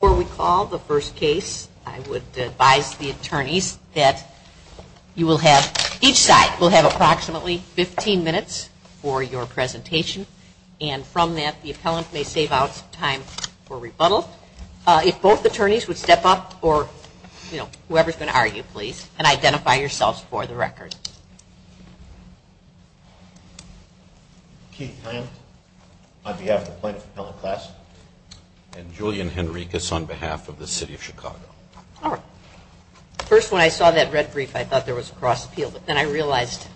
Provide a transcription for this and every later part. Before we call the first case I would advise the attorneys that each side will have approximately 15 minutes for your presentation and from that the appellant may save out some time for rebuttal. If both attorneys would step up or whoever is going to argue please and identify yourselves for the record. First when I saw that red brief I thought there was a cross appeal but then I realized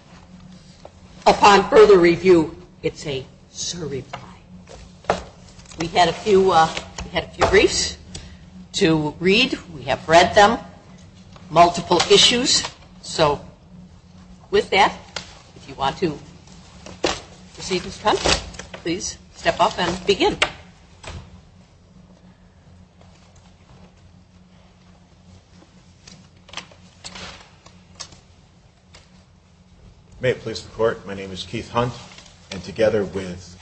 upon further review it's a surreply. We had a few briefs to read, we have read them, multiple issues so with that if you want to proceed Mr. Hunt please step up and begin. May it please the court, my name is Keith Hunt and together with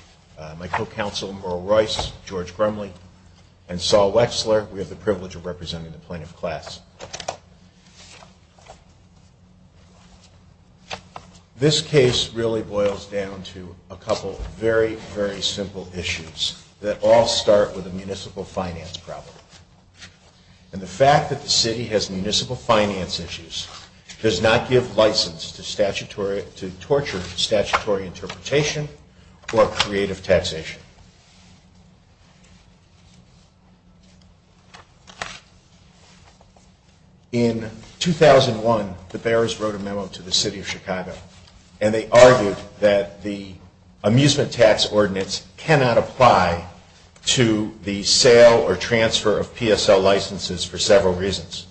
my co-counsel Merle Royce, George Grumley and Saul Wexler we have the privilege of representing the plaintiff's class. This case really boils down to a couple very, very simple issues that all start with a municipal finance problem and the fact that the city has municipal finance issues does not give license to torture statutory interpretation or creative taxation. In 2001 the bearers wrote a memo to the city of Chicago and they argued that the amusement tax ordinance cannot apply to the sale or transfer of PSL licenses for several reasons.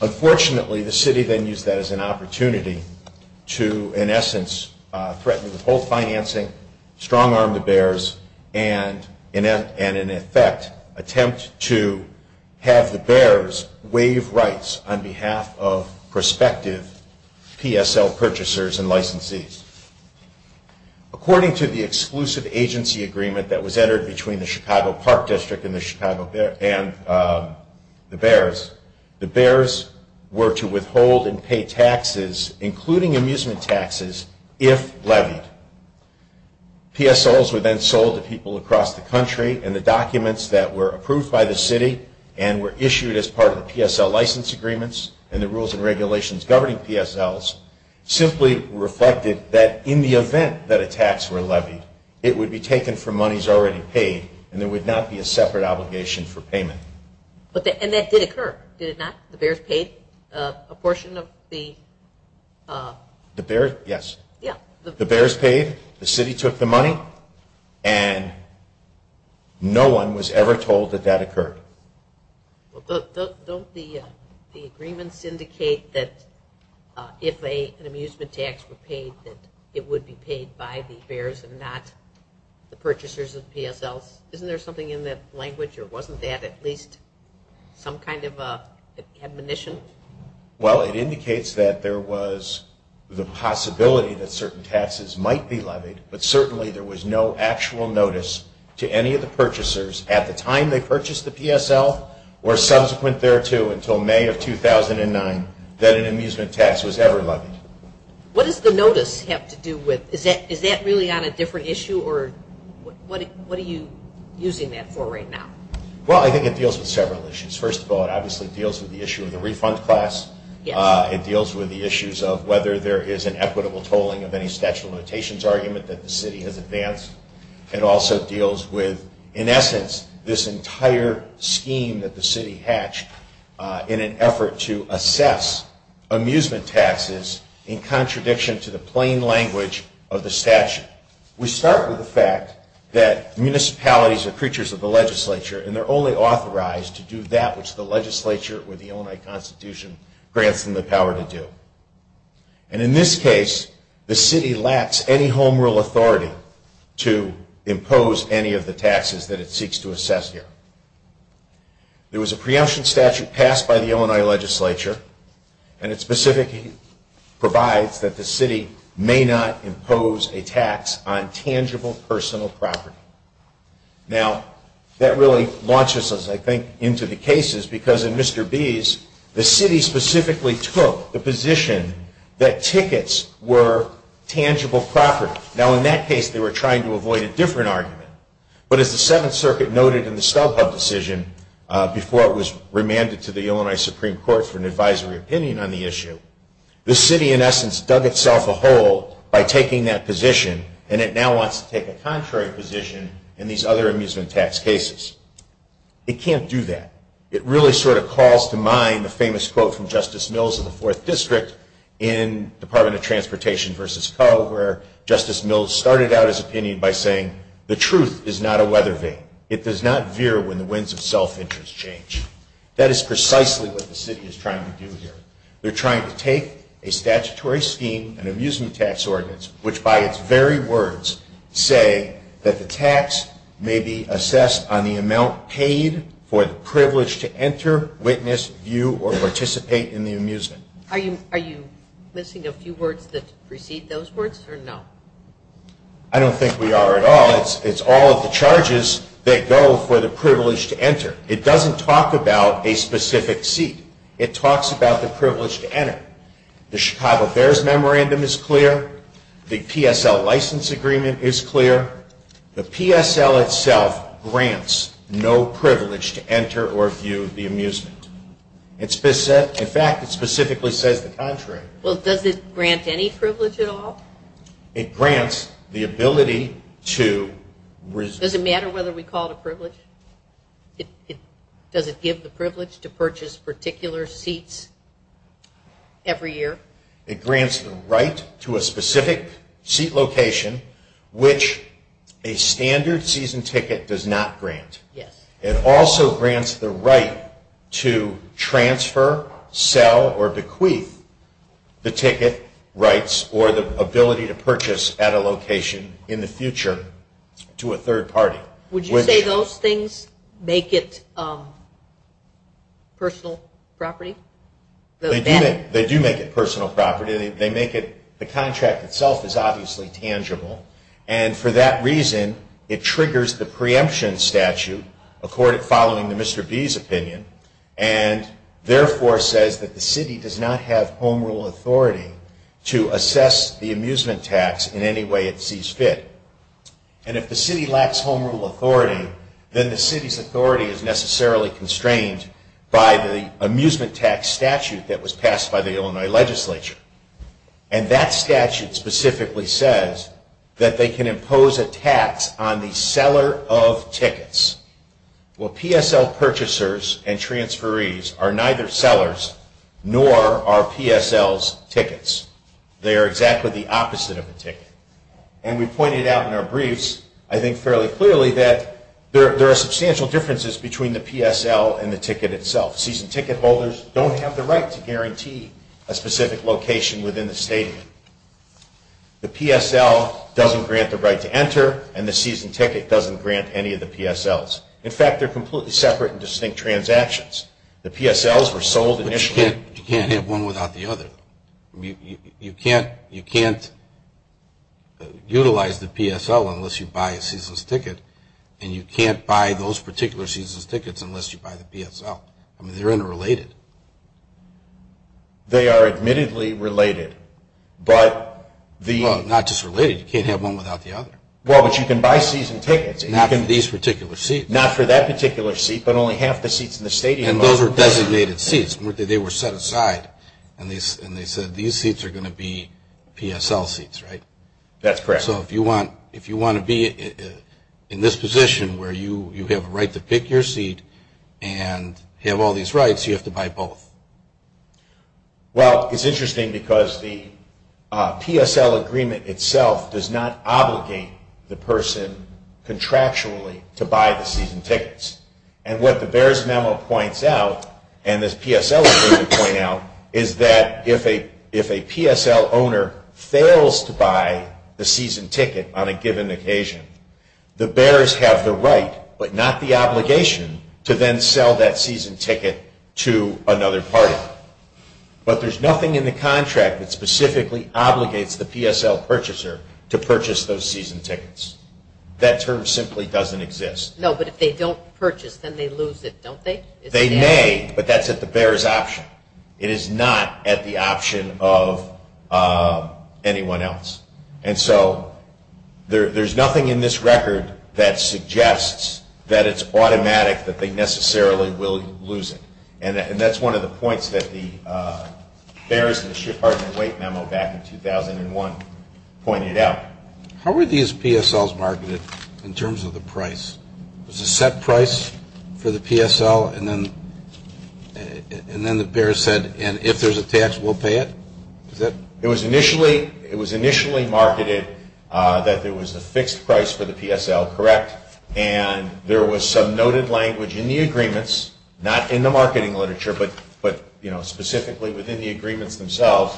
Unfortunately the city then used that as an opportunity to in essence threaten both financing, strong arm the bearers and in effect attempt to have the bearers waive rights on behalf of prospective PSL purchasers and licensees. According to the exclusive agency agreement that was entered between the Chicago Park District and the Chicago Bears, the bearers were to withhold and pay taxes including amusement taxes if levied. PSLs were then sold to people across the country and the documents that were approved by the city and were issued as part of the PSL license agreements and the rules and regulations governing PSLs simply reflected that in the event that a tax were levied it would be taken from monies already paid and there would not be a separate obligation for payment. And that did occur, did it not? The bears paid a portion of the... The bears, yes. The bears paid, the city took the money and no one was ever told that that occurred. Don't the agreements indicate that if an amusement tax were paid that it would be paid by the bears and not the purchasers of PSLs? Isn't there something in that language or wasn't that at least some kind of admonition? Well, it indicates that there was the possibility that certain taxes might be levied but certainly there was no actual notice to any of the purchasers at the time they purchased the PSL or subsequent thereto until May of 2009 that an amusement tax was ever levied. What does the notice have to do with, is that really on a different issue or what are you using that for right now? Well, I think it deals with several issues. First of all, it obviously deals with the issue of the refund class. It deals with the issues of whether there is an equitable tolling of any statute of limitations argument that the city has advanced. It also deals with, in essence, this entire scheme that the city hatched in an effort to assess amusement taxes in contradiction to the plain language of the statute. We start with the fact that municipalities are creatures of the legislature and they're only authorized to do that which the legislature or the Illinois Constitution grants them the power to do. And in this case, the city lacks any home rule authority to impose any of the taxes that it seeks to assess here. There was a preemption statute passed by the Illinois legislature and it specifically provides that the city may not impose a tax on tangible personal property. Now, that really launches us, I think, into the cases because in Mr. B's, the city specifically took the position that tickets were tangible property. Now, in that case, they were trying to avoid a different argument. But as the Seventh Circuit noted in the StubHub decision before it was remanded to the Illinois Supreme Court for an advisory opinion on the issue, the city, in essence, dug itself a hole by taking that position and it now wants to take a contrary position in these other amusement tax cases. It can't do that. It really sort of calls to mind the famous quote from Justice Mills in the Fourth District in Department of Transportation versus Co. where Justice Mills started out his opinion by saying, the truth is not a weather vane. It does not veer when the winds of self-interest change. That is precisely what the city is trying to do here. They're trying to take a statutory scheme, an amusement tax ordinance, which by its very words say that the tax may be assessed on the amount paid for the privilege to enter, witness, view, or participate in the amusement. Are you missing a few words that precede those words or no? I don't think we are at all. It's all of the charges that go for the privilege to enter. It doesn't talk about a specific seat. It talks about the privilege to enter. The Chicago Bears Memorandum is clear. The PSL License Agreement is clear. The PSL itself grants no privilege to enter or view the amusement. In fact, it specifically says the contrary. Well, does it grant any privilege at all? It grants the ability to... Does it matter whether we call it a privilege? Does it give the privilege to purchase particular seats every year? It grants the right to a specific seat location, which a standard season ticket does not grant. It also grants the right to transfer, sell, or bequeath the ticket rights or the ability to purchase at a location in the future to a third party. Would you say those things make it personal property? They do make it personal property. The contract itself is obviously tangible. And for that reason, it triggers the preemption statute following the Mr. B's opinion, and therefore says that the city does not have home rule authority to assess the amusement tax in any way it sees fit. And if the city lacks home rule authority, then the city's authority is necessarily constrained by the amusement tax statute that was passed by the Illinois legislature. And that statute specifically says that they can impose a tax on the seller of tickets. Well, PSL purchasers and transferees are neither sellers nor are PSLs tickets. They are exactly the opposite of a ticket. And we pointed out in our briefs, I think fairly clearly, that there are substantial differences between the PSL and the ticket itself. Season ticket holders don't have the right to guarantee a specific location within the stadium. The PSL doesn't grant the right to enter, and the season ticket doesn't grant any of the PSLs. In fact, they're completely separate and distinct transactions. The PSLs were sold initially. But you can't have one without the other. You can't utilize the PSL unless you buy a season's ticket, and you can't buy those particular season's tickets unless you buy the PSL. I mean, they're interrelated. They are admittedly related, but the... Well, not just related. You can't have one without the other. Well, but you can buy season tickets. Not for these particular seats. Not for that particular seat, but only half the seats in the stadium. And those are designated seats. They were set aside, and they said these seats are going to be PSL seats, right? That's correct. So if you want to be in this position where you have a right to pick your seat and have all these rights, you have to buy both. Well, it's interesting because the PSL agreement itself does not obligate the person contractually to buy the season tickets. And what the BEARS memo points out, and this PSL agreement point out, is that if a PSL owner fails to buy the season ticket on a given occasion, the BEARS have the right, but not the obligation, to then sell that season ticket to another party. But there's nothing in the contract that specifically obligates the PSL purchaser to purchase those season tickets. That term simply doesn't exist. No, but if they don't purchase, then they lose it, don't they? They may, but that's at the BEARS' option. It is not at the option of anyone else. And so there's nothing in this record that suggests that it's automatic that they necessarily will lose it. And that's one of the points that the BEARS and the Department of Weight memo back in 2001 pointed out. How were these PSLs marketed in terms of the price? Was a set price for the PSL, and then the BEARS said, and if there's a tax, we'll pay it? It was initially marketed that there was a fixed price for the PSL, correct? And there was some noted language in the agreements, not in the marketing literature, but specifically within the agreements themselves,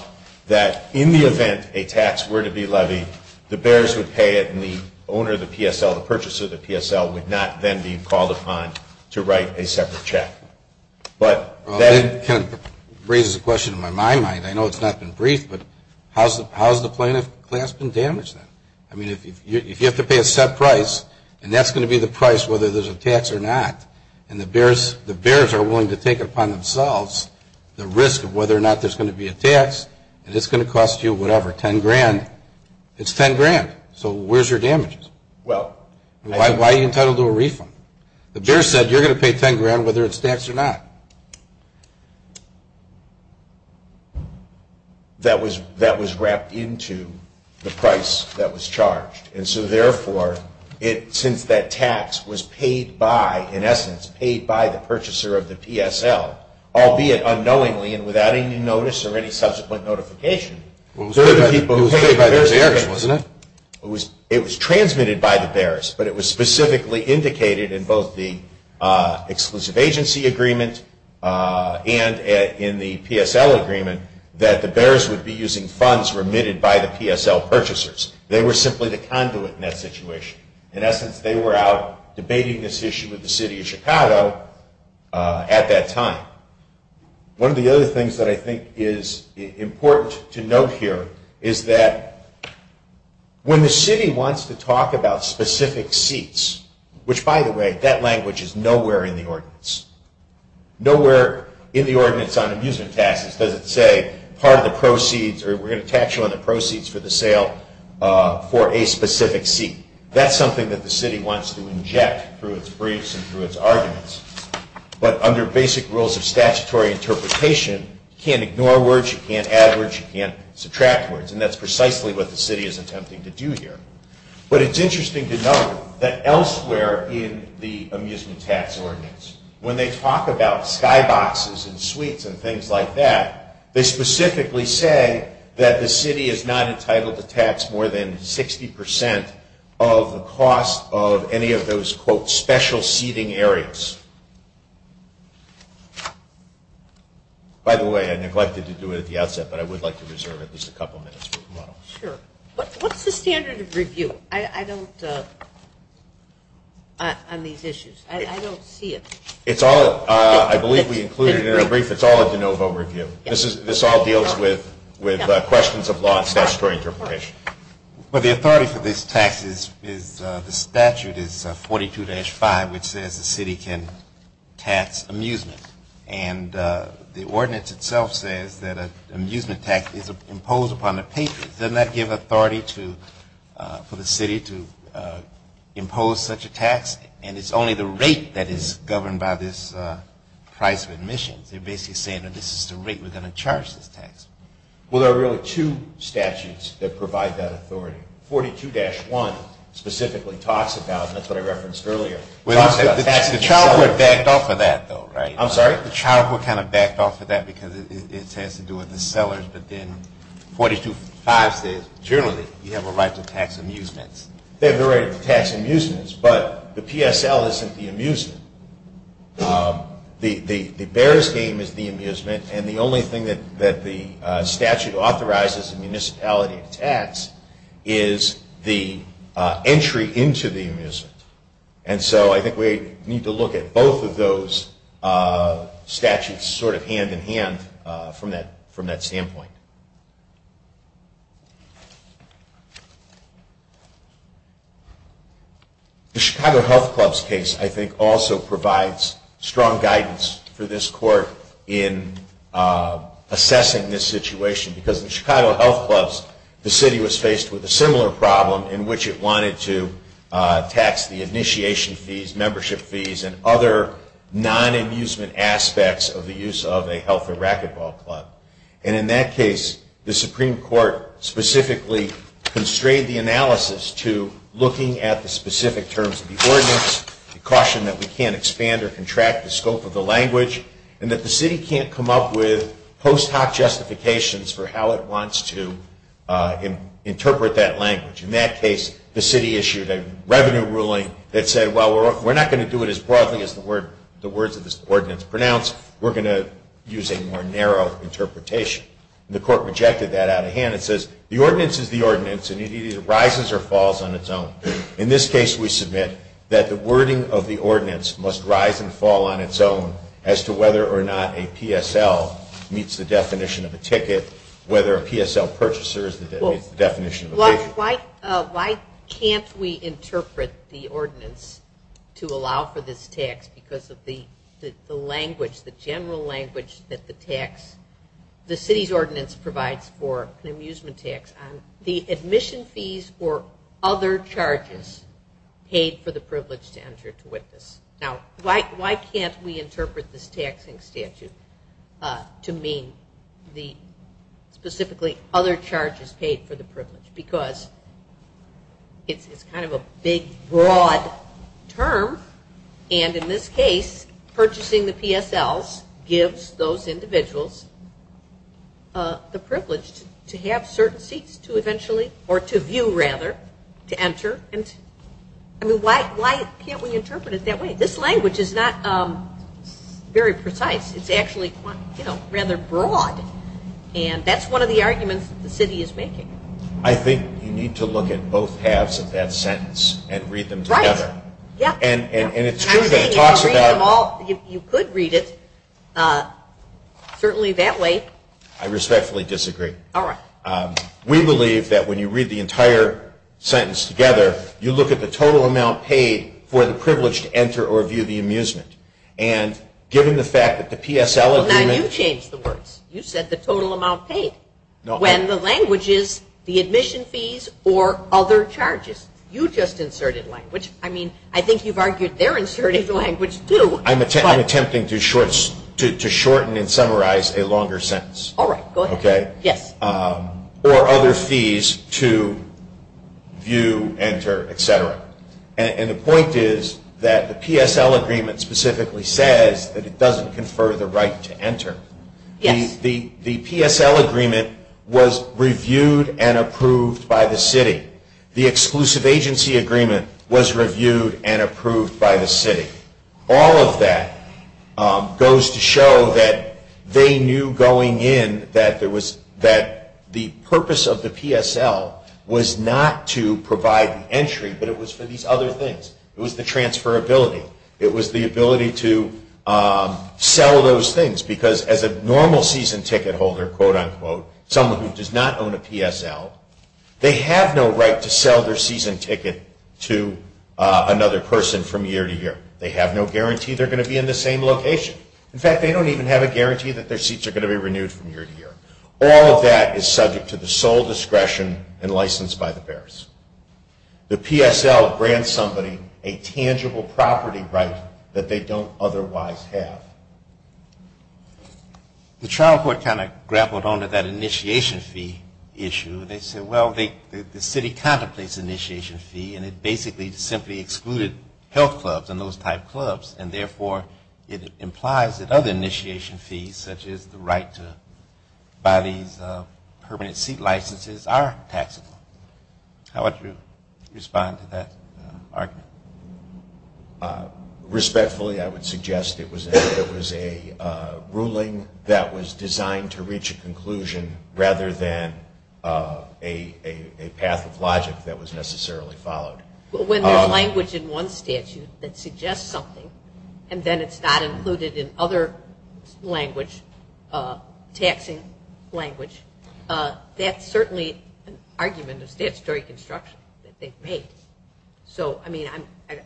that in the event a tax were to be levied, the BEARS would pay it and the owner of the PSL, the purchaser of the PSL, would not then be called upon to write a separate check. But that raises a question in my mind. I know it's not been briefed, but how has the plaintiff class been damaged then? I mean, if you have to pay a set price, and that's going to be the price whether there's a tax or not, and the BEARS are willing to take it upon themselves the risk of whether or not there's going to be a tax, and it's going to cost you whatever, $10,000, it's $10,000. So where's your damages? Why are you entitled to a refund? The BEARS said you're going to pay $10,000 whether it's taxed or not. That was wrapped into the price that was charged. And so, therefore, since that tax was paid by, in essence, paid by the purchaser of the PSL, albeit unknowingly and without any notice or any subsequent notification, it was transmitted by the BEARS, but it was specifically indicated in both the Exclusive Agency Agreement and in the PSL Agreement that the BEARS would be using funds remitted by the PSL purchasers. They were simply the conduit in that situation. In essence, they were out debating this issue with the city of Chicago at that time. One of the other things that I think is important to note here is that when the city wants to talk about specific seats, which, by the way, that language is nowhere in the ordinance. Nowhere in the ordinance on amusement taxes does it say part of the proceeds or we're going to tax you on the proceeds for the sale for a specific seat. That's something that the city wants to inject through its briefs and through its arguments. But under basic rules of statutory interpretation, you can't ignore words, you can't add words, you can't subtract words. And that's precisely what the city is attempting to do here. But it's interesting to note that elsewhere in the amusement tax ordinance, when they talk about skyboxes and suites and things like that, they specifically say that the city is not entitled to tax more than 60% of the cost of any of those, quote, special seating areas. By the way, I neglected to do it at the outset, but I would like to reserve at least a couple minutes for tomorrow. Sure. What's the standard of review? I don't, on these issues, I don't see it. It's all, I believe we included in our brief, it's all a de novo review. This all deals with questions of law and statutory interpretation. Well, the authority for this tax is, the statute is 42-5, which says the city can tax amusement. And the ordinance itself says that an amusement tax is imposed upon the patrons. Doesn't that give authority to, for the city to impose such a tax? And it's only the rate that is governed by this price of admissions. They're basically saying that this is the rate we're going to charge this tax. Well, there are really two statutes that provide that authority. 42-1 specifically talks about, and that's what I referenced earlier, The child would back off of that, though, right? I'm sorry? The child would kind of back off of that because it has to do with the sellers, but then 42-5 says generally you have a right to tax amusements. They have the right to tax amusements, but the PSL isn't the amusement. The Bears game is the amusement, and the only thing that the statute authorizes in municipality tax is the entry into the amusement. And so I think we need to look at both of those statutes sort of hand-in-hand from that standpoint. The Chicago Health Clubs case, I think, also provides strong guidance for this court in assessing this situation, because in the Chicago Health Clubs, the city was faced with a similar problem in which it wanted to tax the initiation fees, membership fees, and other non-amusement aspects of the use of a health or racquetball club. And in that case, the Supreme Court specifically constrained the analysis to looking at the specific terms of the ordinance, the caution that we can't expand or contract the scope of the language, and that the city can't come up with post hoc justifications for how it wants to interpret that language. In that case, the city issued a revenue ruling that said, well, we're not going to do it as broadly as the words of this ordinance pronounce. We're going to use a more narrow interpretation. And the court rejected that out of hand. It says the ordinance is the ordinance, and it either rises or falls on its own. In this case, we submit that the wording of the ordinance must rise and fall on its own as to whether or not a PSL meets the definition of a ticket, whether a PSL purchaser meets the definition of a ticket. Why can't we interpret the ordinance to allow for this tax because of the language, the general language, that the city's ordinance provides for an amusement tax? The admission fees or other charges paid for the privilege to enter to witness. Now, why can't we interpret this taxing statute to mean specifically other charges paid for the privilege? Because it's kind of a big, broad term, and in this case, purchasing the PSLs gives those individuals the privilege to have certain seats to eventually, or to view rather, to enter. I mean, why can't we interpret it that way? This language is not very precise. It's actually, you know, rather broad, and that's one of the arguments the city is making. I think you need to look at both halves of that sentence and read them together. Right, yeah. And it's true that it talks about – You could read it certainly that way. I respectfully disagree. All right. We believe that when you read the entire sentence together, you look at the total amount paid for the privilege to enter or view the amusement. And given the fact that the PSL agreement – Well, now you've changed the words. You said the total amount paid. When the language is the admission fees or other charges. You just inserted language. I mean, I think you've argued they're inserting language, too. I'm attempting to shorten and summarize a longer sentence. All right, go ahead. Okay. Yes. Or other fees to view, enter, et cetera. And the point is that the PSL agreement specifically says that it doesn't confer the right to enter. Yes. The PSL agreement was reviewed and approved by the city. The exclusive agency agreement was reviewed and approved by the city. All of that goes to show that they knew going in that there was – that the purpose of the PSL was not to provide the entry, but it was for these other things. It was the transferability. It was the ability to sell those things because as a normal season ticket holder, quote, unquote, someone who does not own a PSL, they have no right to sell their season ticket to another person from year to year. They have no guarantee they're going to be in the same location. In fact, they don't even have a guarantee that their seats are going to be renewed from year to year. All of that is subject to the sole discretion and license by the bears. The PSL grants somebody a tangible property right that they don't otherwise have. The trial court kind of grappled on to that initiation fee issue. They said, well, the city contemplates initiation fee, and it basically simply excluded health clubs and those type clubs, and therefore it implies that other initiation fees such as the right to buy these permanent seat licenses are taxable. How would you respond to that argument? Respectfully, I would suggest it was a ruling that was designed to reach a conclusion rather than a path of logic that was necessarily followed. When there's language in one statute that suggests something and then it's not included in other language, taxing language, that's certainly an argument of statutory construction that they've made. So, I mean,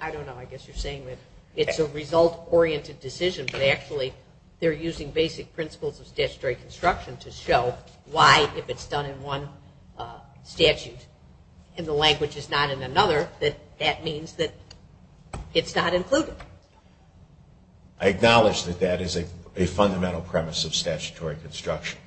I don't know. I guess you're saying that it's a result-oriented decision, but actually they're using basic principles of statutory construction to show why, if it's done in one statute and the language is not in another, that that means that it's not included. I acknowledge that that is a fundamental premise of statutory construction,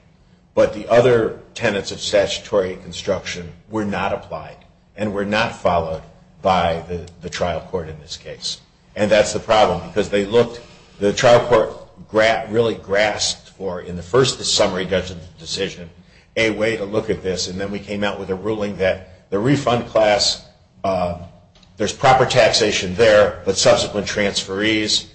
but the other tenets of statutory construction were not applied and were not followed by the trial court in this case. And that's the problem because the trial court really grasped for, in the first summary judgment decision, a way to look at this, and then we came out with a ruling that the refund class, there's proper taxation there, but subsequent transferees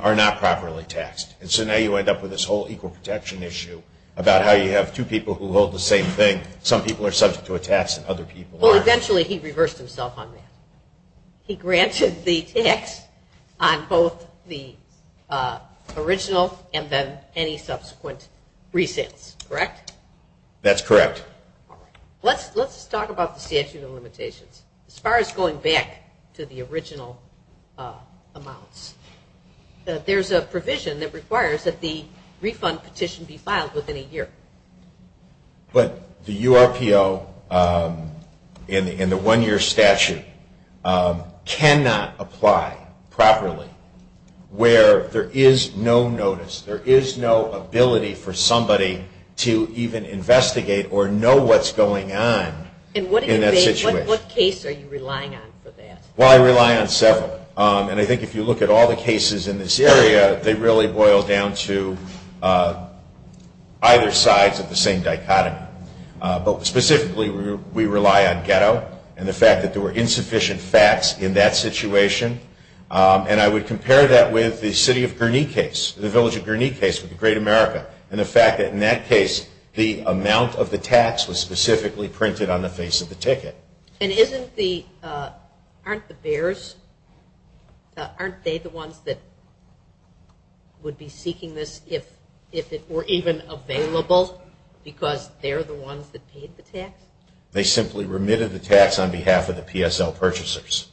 are not properly taxed. And so now you end up with this whole equal protection issue about how you have two people who hold the same thing. Some people are subject to a tax and other people aren't. Well, eventually he reversed himself on that. He granted the tax on both the original and then any subsequent resales, correct? That's correct. All right. Let's talk about the statute of limitations. As far as going back to the original amounts, there's a provision that requires that the refund petition be filed within a year. But the URPO in the one-year statute cannot apply properly where there is no notice, there is no ability for somebody to even investigate or know what's going on in that situation. And what case are you relying on for that? Well, I rely on several. And I think if you look at all the cases in this area, they really boil down to either sides of the same dichotomy. But specifically we rely on ghetto and the fact that there were insufficient facts in that situation. And I would compare that with the city of Gurney case, the village of Gurney case with the great America and the fact that in that case the amount of the tax was specifically printed on the face of the ticket. And aren't the bears, aren't they the ones that would be seeking this if it were even available because they're the ones that paid the tax? They simply remitted the tax on behalf of the PSL purchasers.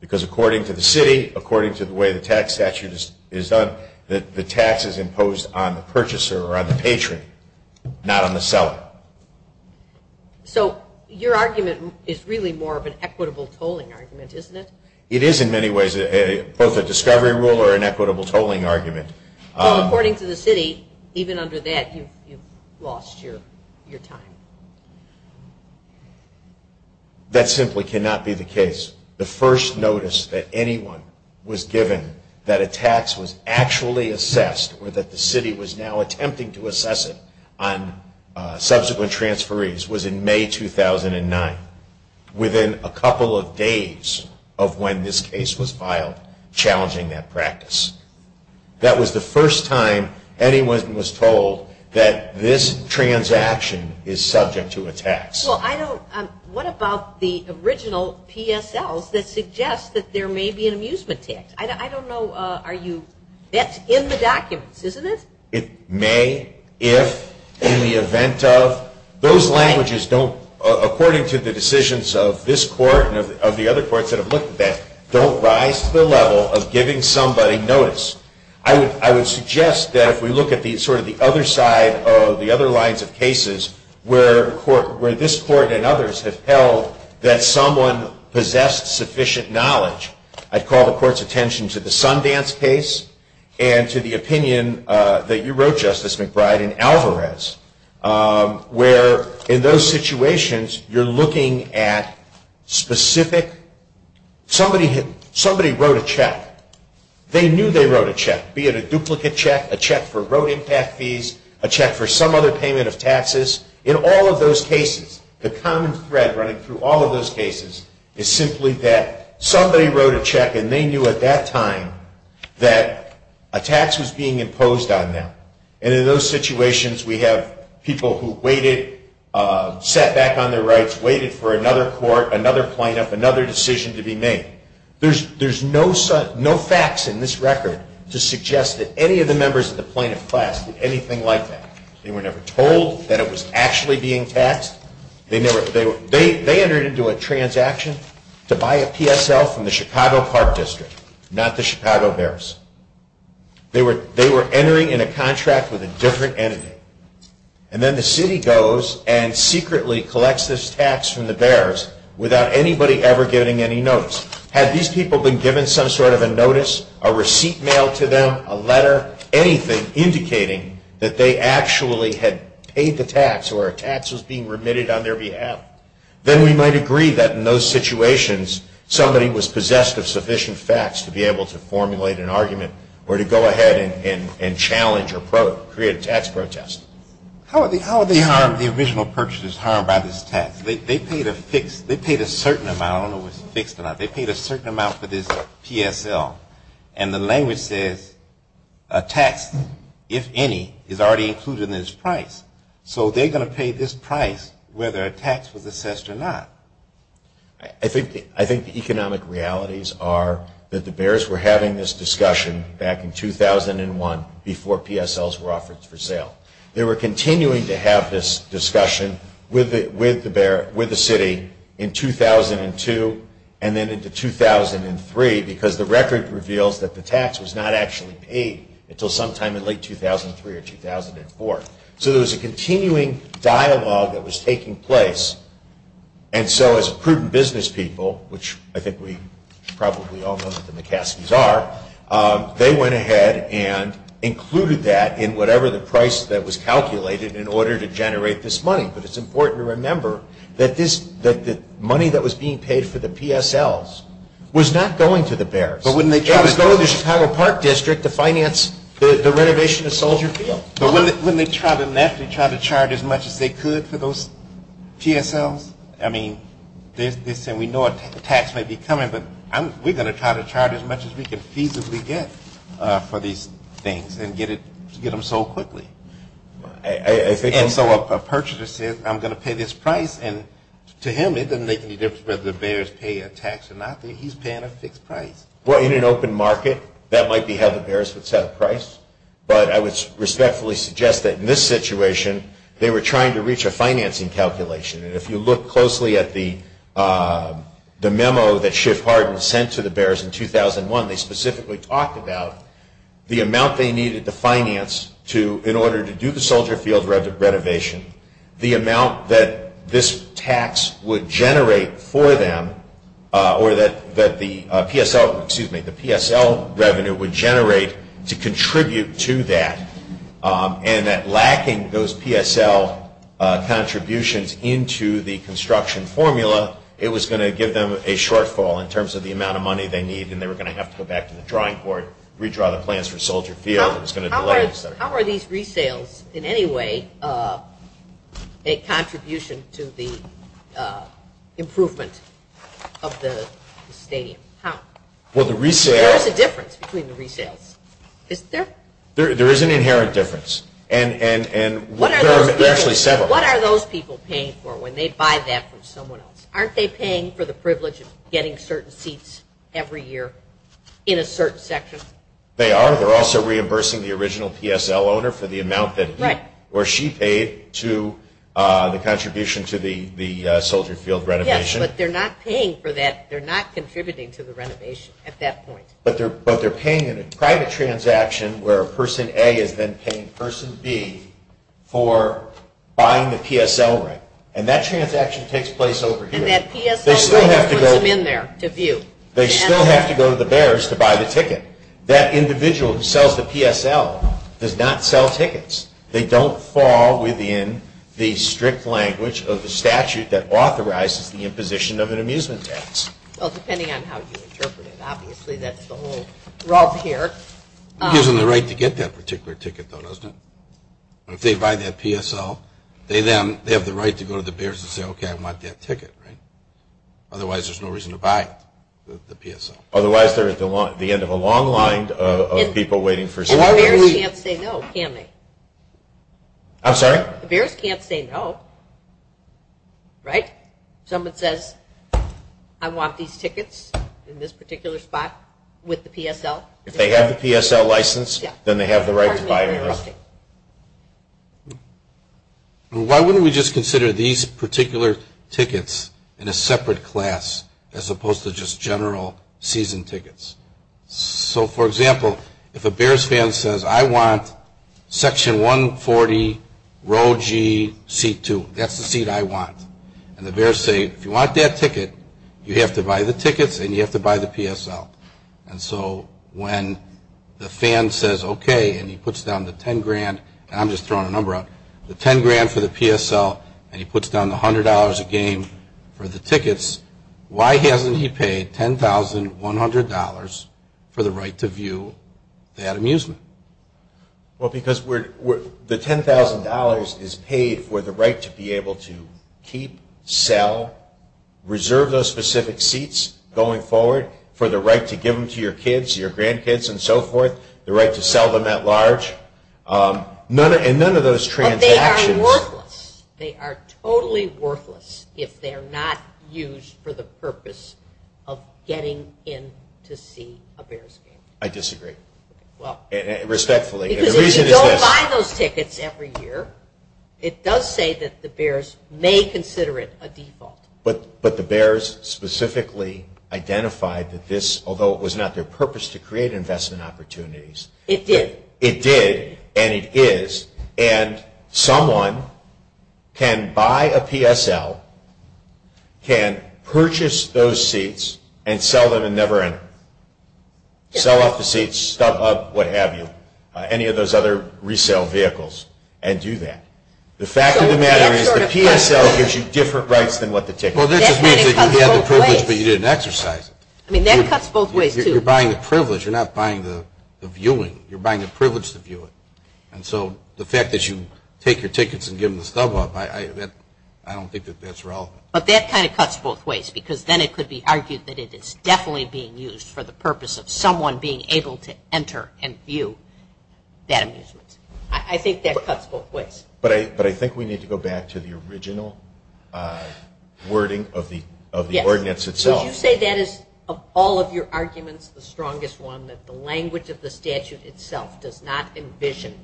Because according to the city, according to the way the tax statute is done, the tax is imposed on the purchaser or on the patron, not on the seller. So your argument is really more of an equitable tolling argument, isn't it? It is in many ways both a discovery rule or an equitable tolling argument. Well, according to the city, even under that you've lost your time. That simply cannot be the case. The first notice that anyone was given that a tax was actually assessed or that the city was now attempting to assess it on subsequent transferees was in May 2009. Within a couple of days of when this case was filed, challenging that practice. That was the first time anyone was told that this transaction is subject to a tax. What about the original PSLs that suggest that there may be an amusement tax? I don't know. That's in the documents, isn't it? It may, if, in the event of. Those languages don't, according to the decisions of this court and of the other courts that have looked at that, don't rise to the level of giving somebody notice. I would suggest that if we look at sort of the other side of the other lines of cases where this court and others have held that someone possessed sufficient knowledge, I'd call the court's attention to the Sundance case and to the opinion that you wrote, Justice McBride, in Alvarez, where in those situations you're looking at specific. Somebody wrote a check. They knew they wrote a check, be it a duplicate check, a check for road impact fees, a check for some other payment of taxes. In all of those cases, the common thread running through all of those cases is simply that somebody wrote a check and they knew at that time that a tax was being imposed on them. And in those situations, we have people who waited, sat back on their rights, waited for another court, another plaintiff, another decision to be made. There's no facts in this record to suggest that any of the members of the plaintiff class did anything like that. They were never told that it was actually being taxed. They entered into a transaction to buy a PSL from the Chicago Park District, not the Chicago Bears. They were entering in a contract with a different entity. And then the city goes and secretly collects this tax from the Bears without anybody ever getting any notice. Had these people been given some sort of a notice, a receipt mailed to them, a letter, anything, indicating that they actually had paid the tax or a tax was being remitted on their behalf, then we might agree that in those situations somebody was possessed of sufficient facts to be able to formulate an argument or to go ahead and challenge or create a tax protest. How are the original purchasers harmed by this tax? They paid a certain amount. I don't know if it's fixed or not. They paid a certain amount for this PSL. And the language says a tax, if any, is already included in this price. So they're going to pay this price whether a tax was assessed or not. I think the economic realities are that the Bears were having this discussion back in 2001 before PSLs were offered for sale. They were continuing to have this discussion with the city in 2002 and then into 2003 because the record reveals that the tax was not actually paid until sometime in late 2003 or 2004. So there was a continuing dialogue that was taking place. And so as prudent business people, which I think we probably all know that the McCaskies are, they went ahead and included that in whatever the price that was calculated in order to generate this money. But it's important to remember that the money that was being paid for the PSLs was not going to the Bears. It was going to the Chicago Park District to finance the renovation of Soldier Field. But wouldn't they try to charge as much as they could for those PSLs? I mean, they're saying we know a tax might be coming, but we're going to try to charge as much as we can feasibly get for these things and get them sold quickly. And so a purchaser says, I'm going to pay this price. And to him, it doesn't make any difference whether the Bears pay a tax or not. He's paying a fixed price. Well, in an open market, that might be how the Bears would set a price. But I would respectfully suggest that in this situation, they were trying to reach a financing calculation. And if you look closely at the memo that Schiff Hardin sent to the Bears in 2001, they specifically talked about the amount they needed to finance in order to do the Soldier Field renovation, the amount that this tax would generate for them or that the PSL revenue would generate to contribute to that, and that lacking those PSL contributions into the construction formula, it was going to give them a shortfall in terms of the amount of money they need, and they were going to have to go back to the drawing board, redraw the plans for Soldier Field. How are these resales in any way a contribution to the improvement of the stadium? There is a difference between the resales. There is an inherent difference, and there are actually several. What are those people paying for when they buy that from someone else? Aren't they paying for the privilege of getting certain seats every year in a certain section? They are. They're also reimbursing the original PSL owner for the amount that he or she paid to the contribution to the Soldier Field renovation. Yes, but they're not paying for that. They're not contributing to the renovation at that point. But they're paying in a private transaction where Person A is then paying Person B for buying the PSL rent, and that transaction takes place over here. And that PSL rent puts them in there to view. They still have to go to the bearers to buy the ticket. That individual who sells the PSL does not sell tickets. They don't fall within the strict language of the statute that authorizes the imposition of an amusement tax. Well, depending on how you interpret it. Obviously, that's the whole rub here. Gives them the right to get that particular ticket, though, doesn't it? If they buy that PSL, they then have the right to go to the bearers and say, okay, I want that ticket, right? Otherwise, there's no reason to buy the PSL. Otherwise, they're at the end of a long line of people waiting for someone to leave. And the bearers can't say no, can they? I'm sorry? The bearers can't say no, right? Someone says, I want these tickets in this particular spot with the PSL. If they have the PSL license, then they have the right to buy it. Why wouldn't we just consider these particular tickets in a separate class as opposed to just general season tickets? So, for example, if a bearers fan says, I want section 140, row G, seat 2. That's the seat I want. And the bearers say, if you want that ticket, you have to buy the tickets and you have to buy the PSL. And so when the fan says, okay, and he puts down the 10 grand, and I'm just throwing a number out, the 10 grand for the PSL, and he puts down the $100 a game for the tickets, why hasn't he paid $10,100 for the right to view that amusement? Well, because the $10,000 is paid for the right to be able to keep, sell, reserve those specific seats going forward for the right to give them to your kids, your grandkids, and so forth, the right to sell them at large. And none of those transactions... But they are worthless. They are totally worthless if they're not used for the purpose of getting in to see a bearers game. I disagree. Respectfully. The reason is this. Because if you don't buy those tickets every year, it does say that the bearers may consider it a default. But the bearers specifically identified that this, although it was not their purpose to create investment opportunities... It did. It did, and it is. And someone can buy a PSL, can purchase those seats, and sell them and never enter. Sell off the seats, stub up, what have you, any of those other resale vehicles, and do that. The fact of the matter is the PSL gives you different rights than what the ticket does. Well, that just means that you had the privilege, but you didn't exercise it. I mean, that cuts both ways, too. You're buying the privilege. You're not buying the viewing. You're buying the privilege to view it. And so the fact that you take your tickets and give them the stub up, I don't think that that's relevant. But that kind of cuts both ways because then it could be argued that it is definitely being used for the purpose of someone being able to enter and view that amusement. I think that cuts both ways. But I think we need to go back to the original wording of the ordinance itself. Would you say that is, of all of your arguments, the strongest one, that the language of the statute itself does not envision,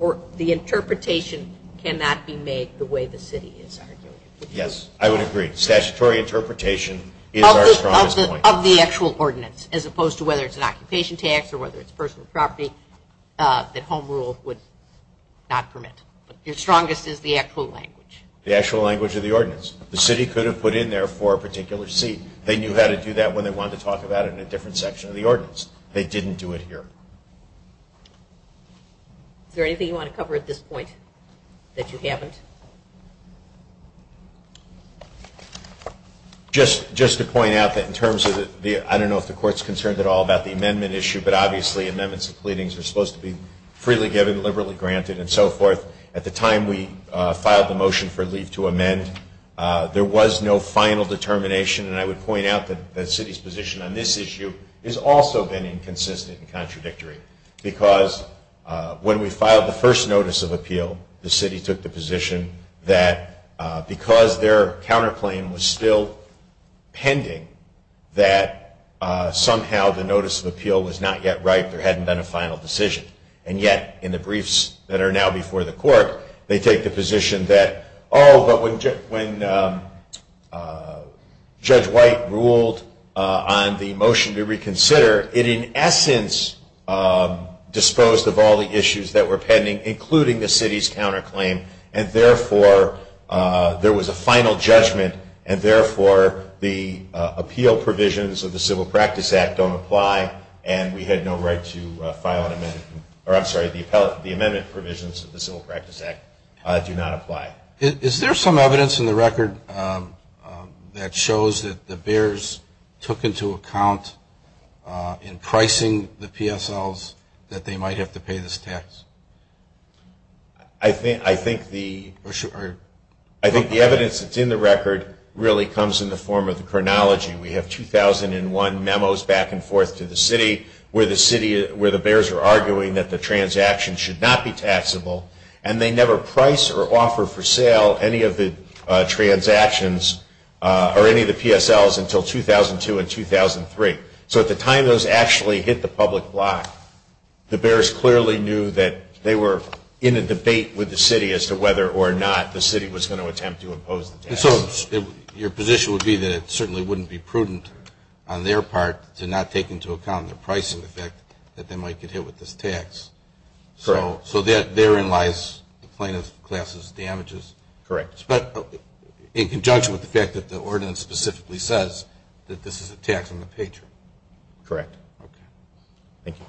or the interpretation cannot be made the way the city is arguing it? Yes, I would agree. Statutory interpretation is our strongest point. Of the actual ordinance, as opposed to whether it's an occupation tax or whether it's personal property that home rule would not permit. Your strongest is the actual language. The actual language of the ordinance. The city could have put in there for a particular seat. They knew how to do that when they wanted to talk about it in a different section of the ordinance. They didn't do it here. Is there anything you want to cover at this point that you haven't? Just to point out that in terms of the, I don't know if the court is concerned at all about the amendment issue, but obviously amendments to pleadings are supposed to be freely given, liberally granted, and so forth. At the time we filed the motion for leave to amend, there was no final determination. And I would point out that the city's position on this issue is also been inconsistent and contradictory. Because when we filed the first notice of appeal, the city took the position that because their counterclaim was still pending, that somehow the notice of appeal was not yet right, there hadn't been a final decision. And yet, in the briefs that are now before the court, they take the position that, oh, but when Judge White ruled on the motion to reconsider, it in essence disposed of all the issues that were pending, including the city's counterclaim. And therefore, there was a final judgment. And therefore, the appeal provisions of the Civil Practice Act don't apply, and we had no right to file an amendment, or I'm sorry, the amendment provisions of the Civil Practice Act do not apply. Is there some evidence in the record that shows that the Bears took into account in pricing the PSLs that they might have to pay this tax? I think the evidence that's in the record really comes in the form of the chronology. We have 2001 memos back and forth to the city where the Bears are arguing that the transaction should not be taxable, and they never price or offer for sale any of the transactions or any of the PSLs until 2002 and 2003. So at the time those actually hit the public block, the Bears clearly knew that they were in a debate with the city as to whether or not the city was going to attempt to impose the tax. And so your position would be that it certainly wouldn't be prudent on their part to not take into account their pricing effect that they might get hit with this tax. Correct. So therein lies the plaintiff's class's damages. Correct. But in conjunction with the fact that the ordinance specifically says that this is a tax on the patron. Correct. Okay. Thank you.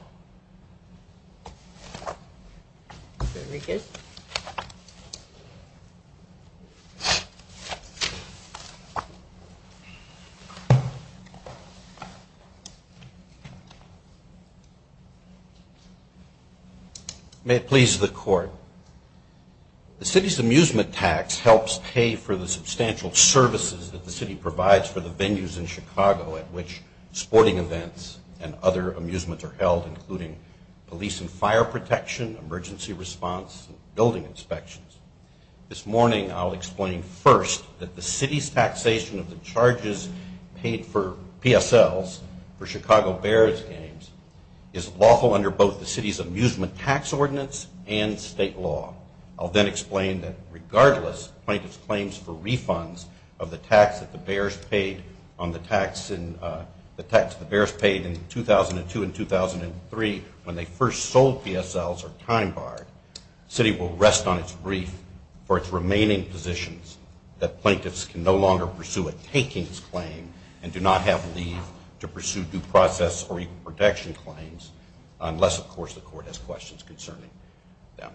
Very good. May it please the Court. The city's amusement tax helps pay for the substantial services that the city provides for the venues in Chicago at which sporting events and other amusements are held including police and fire protection, emergency response, and building inspections. This morning I'll explain first that the city's taxation of the charges paid for PSLs for Chicago Bears games is lawful under both the city's amusement tax ordinance and state law. I'll then explain that regardless plaintiff's claims for refunds of the tax that the Bears paid in 2002 and 2003 when they first sold PSLs are time barred. The city will rest on its grief for its remaining positions that plaintiffs can no longer pursue a takings claim and do not have leave to pursue due process or equal protection claims unless, of course, the court has questions concerning them.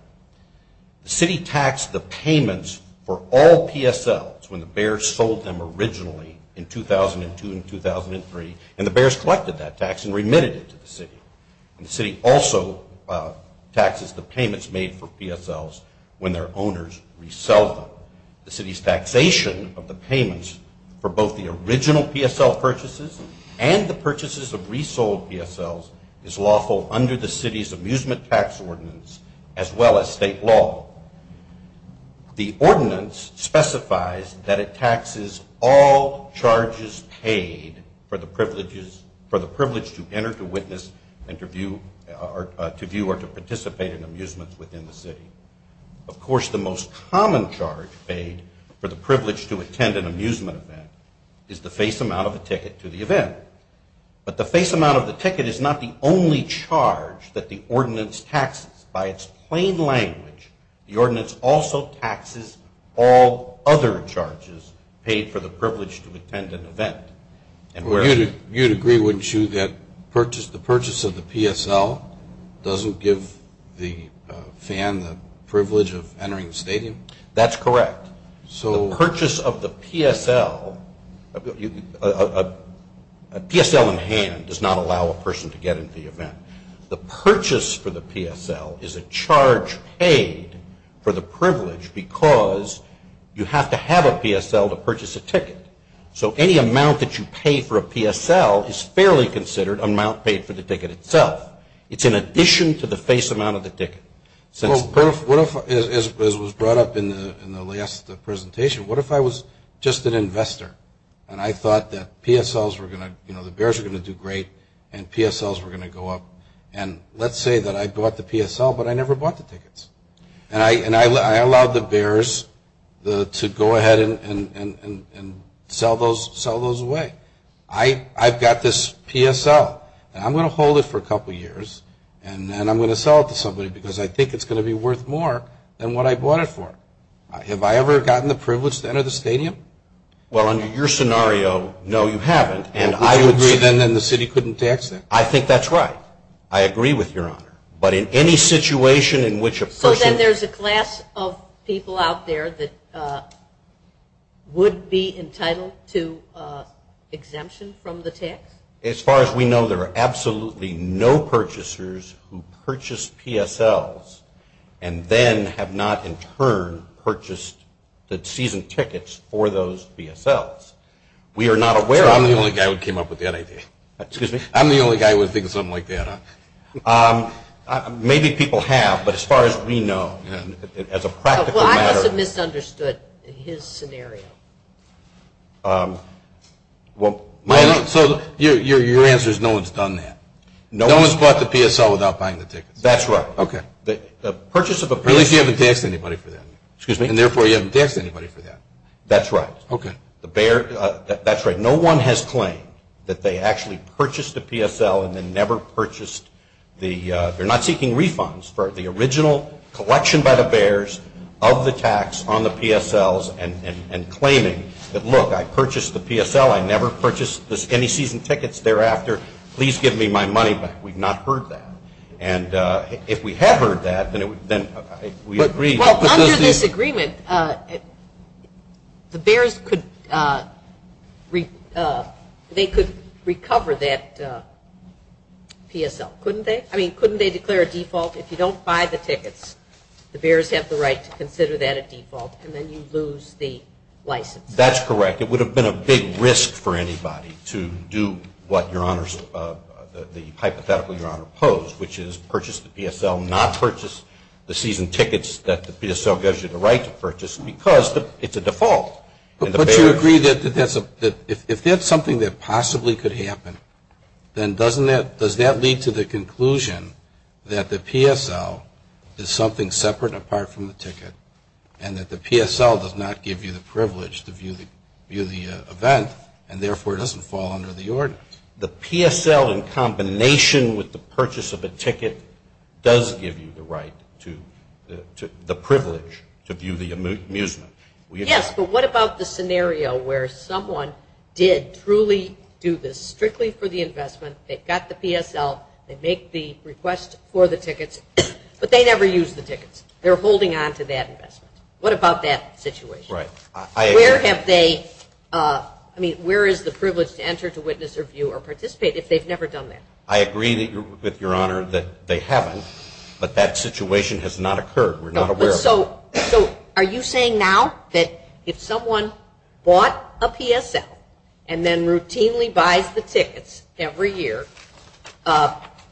The city taxed the payments for all PSLs when the Bears sold them originally in 2002 and 2003 and the Bears collected that tax and remitted it to the city. And the city also taxes the payments made for PSLs when their owners resell them. The city's taxation of the payments for both the original PSL purchases and the purchases of resold PSLs is lawful under the city's amusement tax ordinance as well as state law. The ordinance specifies that it taxes all charges paid for the privilege to enter to witness and to view or to participate in amusements within the city. Of course, the most common charge paid for the privilege to attend an amusement event is the face amount of a ticket to the event. But the face amount of the ticket is not the only charge that the ordinance taxes. By its plain language, the ordinance also taxes all other charges paid for the privilege to attend an event. You'd agree, wouldn't you, that the purchase of the PSL doesn't give the fan the privilege of entering the stadium? That's correct. The purchase of the PSL, a PSL in hand does not allow a person to get into the event. The purchase for the PSL is a charge paid for the privilege because you have to have a PSL to purchase a ticket. So any amount that you pay for a PSL is fairly considered amount paid for the ticket itself. It's in addition to the face amount of the ticket. As was brought up in the last presentation, what if I was just an investor and I thought that the Bears were going to do great and PSLs were going to go up. And let's say that I bought the PSL but I never bought the tickets. And I allowed the Bears to go ahead and sell those away. I've got this PSL and I'm going to hold it for a couple of years and then I'm going to sell it to somebody because I think it's going to be worth more than what I bought it for. Have I ever gotten the privilege to enter the stadium? Well, under your scenario, no, you haven't. And I would agree then that the city couldn't tax that. I think that's right. I agree with Your Honor. But in any situation in which a person So then there's a class of people out there that would be entitled to exemption from the tax? As far as we know, there are absolutely no purchasers who purchase PSLs and then have not in turn purchased the season tickets for those PSLs. We are not aware of that. So I'm the only guy who came up with that idea. Excuse me? I'm the only guy who would think of something like that. Maybe people have, but as far as we know, as a practical matter Well, I must have misunderstood his scenario. Well, my So your answer is no one's done that? No one's bought the PSL without buying the tickets? That's right. Okay. The purchase of a PSL Unless you haven't taxed anybody for that. Excuse me? And therefore, you haven't taxed anybody for that. That's right. Okay. That's right. No one has claimed that they actually purchased a PSL and then never purchased the They're not seeking refunds for the original collection by the bears of the tax on the PSLs and claiming that, look, I purchased the PSL. I never purchased any season tickets thereafter. Please give me my money back. We've not heard that. And if we have heard that, then we agree. Well, under this agreement, the bears could recover that PSL, couldn't they? I mean, couldn't they declare a default? If you don't buy the tickets, the bears have the right to consider that a default and then you lose the license. That's correct. It would have been a big risk for anybody to do what the hypothetical Your Honor posed, which is purchase the PSL, not purchase the season tickets that the PSL gives you the right to purchase because it's a default. But you agree that if that's something that possibly could happen, then does that lead to the conclusion that the PSL is something separate and apart from the ticket and that the PSL does not give you the privilege to view the event and therefore it doesn't fall under the order? The PSL in combination with the purchase of a ticket does give you the right to, the privilege to view the amusement. Yes, but what about the scenario where someone did truly do this strictly for the investment, they got the PSL, they make the request for the tickets, but they never used the tickets. They're holding on to that investment. What about that situation? Right. Where have they, I mean, where is the privilege to enter to witness or view or participate if they've never done that? I agree with Your Honor that they haven't, but that situation has not occurred. We're not aware of it. So are you saying now that if someone bought a PSL and then routinely buys the tickets every year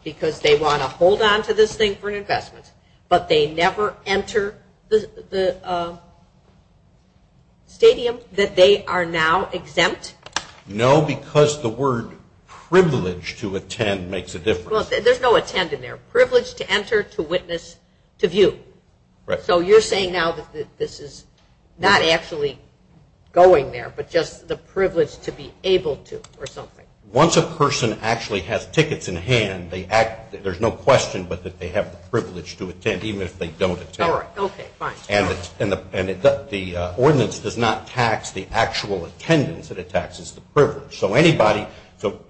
because they want to hold on to this thing for an investment, but they never enter the stadium that they are now exempt? No, because the word privilege to attend makes a difference. Well, there's no attend in there. Privilege to enter, to witness, to view. Right. So you're saying now that this is not actually going there, but just the privilege to be able to or something. Once a person actually has tickets in hand, there's no question but that they have the privilege to attend, even if they don't attend. All right. Okay. Fine. And the ordinance does not tax the actual attendance. It taxes the privilege. So anybody,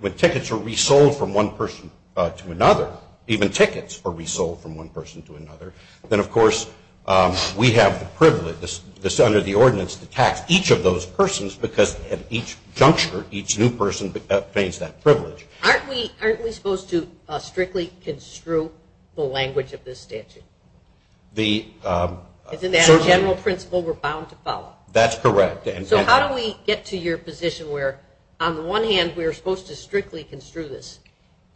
when tickets are resold from one person to another, even tickets are resold from one person to another, then, of course, we have the privilege under the ordinance to tax each of those persons because at each juncture each new person obtains that privilege. Aren't we supposed to strictly construe the language of this statute? Isn't that a general principle we're bound to follow? That's correct. So how do we get to your position where, on the one hand, we're supposed to strictly construe this,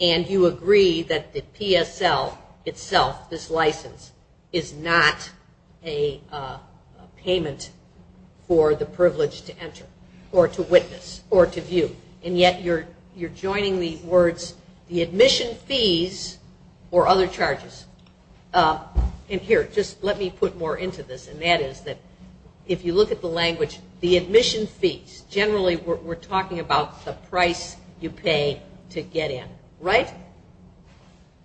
and you agree that the PSL itself, this license, is not a payment for the privilege to enter or to witness or to view, and yet you're joining the words, the admission fees or other charges. And here, just let me put more into this, and that is that if you look at the language, the admission fees, generally we're talking about the price you pay to get in, right?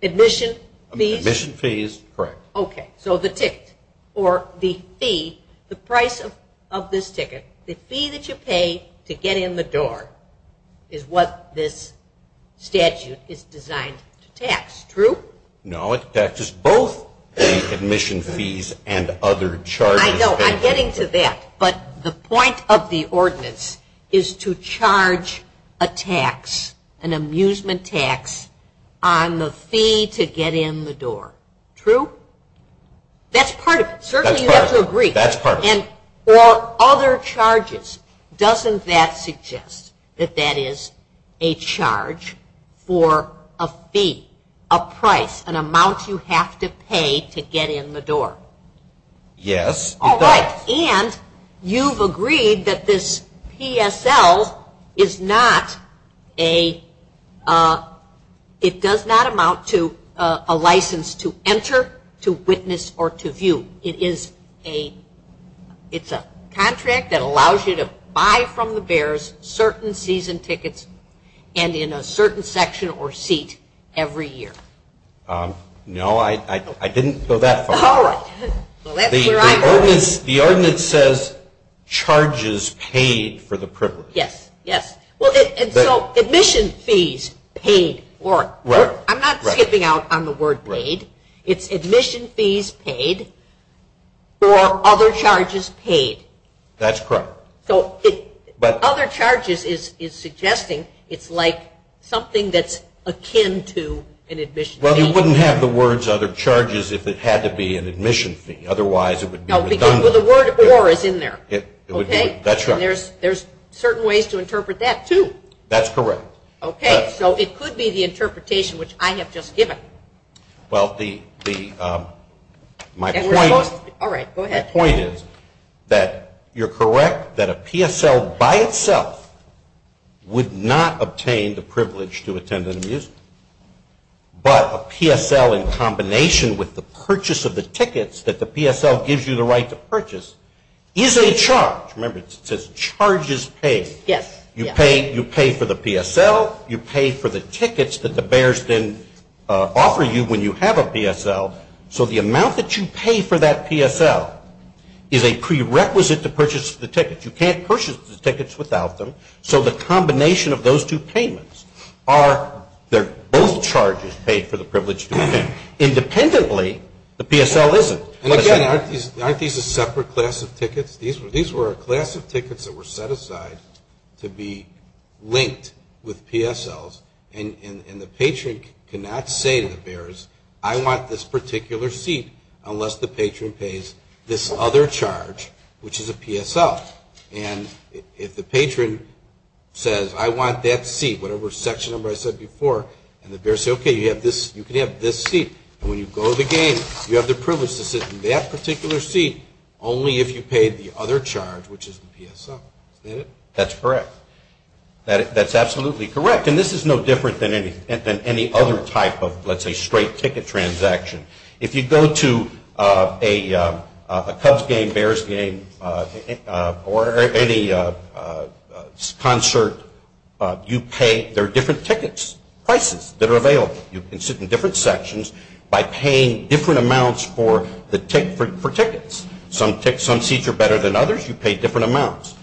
Admission fees? Admission fees, correct. Okay. So the ticket or the fee, the price of this ticket, the fee that you pay to get in the door is what this statute is designed to tax, true? No, it taxes both the admission fees and other charges. I know. I'm getting to that. But the point of the ordinance is to charge a tax, an amusement tax, on the fee to get in the door, true? That's part of it. Certainly you have to agree. That's part of it. Or other charges. Doesn't that suggest that that is a charge for a fee, a price, an amount you have to pay to get in the door? Yes, it does. All right. And you've agreed that this PSL is not a, it does not amount to a license to enter, to witness, or to view. It is a, it's a contract that allows you to buy from the bears certain season tickets and in a certain section or seat every year. No, I didn't go that far. All right. The ordinance says charges paid for the privilege. Yes, yes. And so admission fees paid for. Right. I'm not skipping out on the word paid. It's admission fees paid for other charges paid. That's correct. Well, you wouldn't have the words other charges if it had to be an admission fee. Otherwise it would be redundant. No, because the word or is in there. Okay. That's right. And there's certain ways to interpret that too. That's correct. Okay. So it could be the interpretation which I have just given. Well, the, my point is that you're correct that a PSL by itself would not obtain the privilege to attend an amusement. But a PSL in combination with the purchase of the tickets that the PSL gives you the right to purchase is a charge. Remember, it says charges paid. Yes. You pay for the PSL. You pay for the tickets that the bears then offer you when you have a PSL. So the amount that you pay for that PSL is a prerequisite to purchase the tickets. You can't purchase the tickets without them. So the combination of those two payments are they're both charges paid for the privilege to attend. Independently, the PSL isn't. And again, aren't these a separate class of tickets? These were a class of tickets that were set aside to be linked with PSLs. And the patron cannot say to the bears, I want this particular seat unless the patron pays this other charge, which is a PSL. And if the patron says, I want that seat, whatever section number I said before, and the bears say, okay, you can have this seat. And when you go to the game, you have the privilege to sit in that particular seat only if you pay the other charge, which is the PSL. Is that it? That's correct. That's absolutely correct. And this is no different than any other type of, let's say, straight ticket transaction. If you go to a Cubs game, Bears game, or any concert, you pay. There are different tickets, prices that are available. You can sit in different sections by paying different amounts for tickets. Some seats are better than others. You pay different amounts.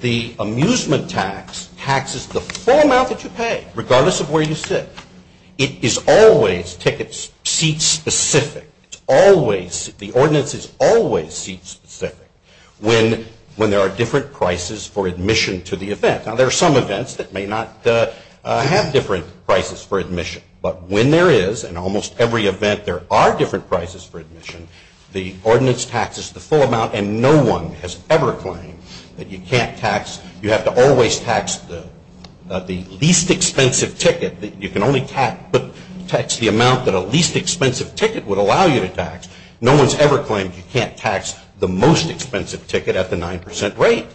The amusement tax taxes the full amount that you pay, regardless of where you sit. It is always ticket seat-specific. It's always, the ordinance is always seat-specific when there are different prices for admission to the event. Now, there are some events that may not have different prices for admission. But when there is, in almost every event there are different prices for admission, the ordinance taxes the full amount, and no one has ever claimed that you can't tax, you have to always tax the least expensive ticket. You can only tax the amount that a least expensive ticket would allow you to tax. No one has ever claimed you can't tax the most expensive ticket at the 9% rate.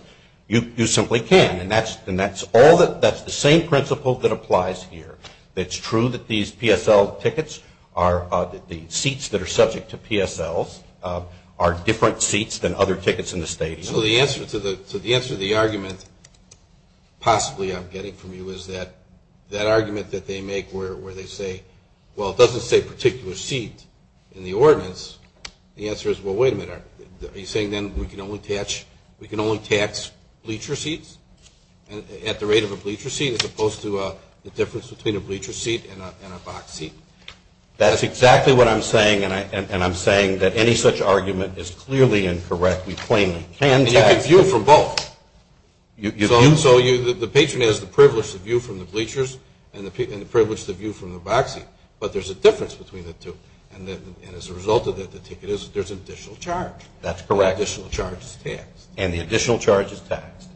You simply can. And that's the same principle that applies here. It's true that these PSL tickets, the seats that are subject to PSLs, are different seats than other tickets in the stadium. So the answer to the argument, possibly I'm getting from you, is that argument that they make where they say, well, it doesn't say particular seat in the ordinance. The answer is, well, wait a minute, are you saying then we can only tax bleacher seats at the rate of a bleacher seat as opposed to the difference between a bleacher seat and a box seat? That's exactly what I'm saying, and I'm saying that any such argument is clearly incorrect. We plainly can't tax them. And you can view from both. So the patron has the privilege to view from the bleachers and the privilege to view from the box seat, but there's a difference between the two. And as a result of that, there's an additional charge. That's correct. The additional charge is taxed. And the additional charge is taxed.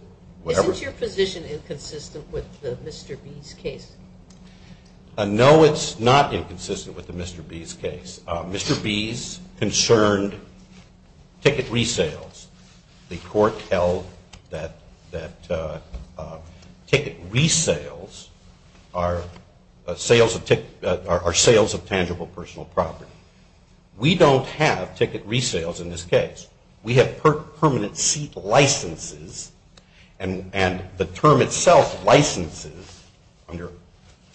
Isn't your position inconsistent with the Mr. B's case? No, it's not inconsistent with the Mr. B's case. Mr. B's concerned ticket resales, the court held that ticket resales are sales of tangible personal property. We don't have ticket resales in this case. We have permanent seat licenses, and the term itself, licenses, under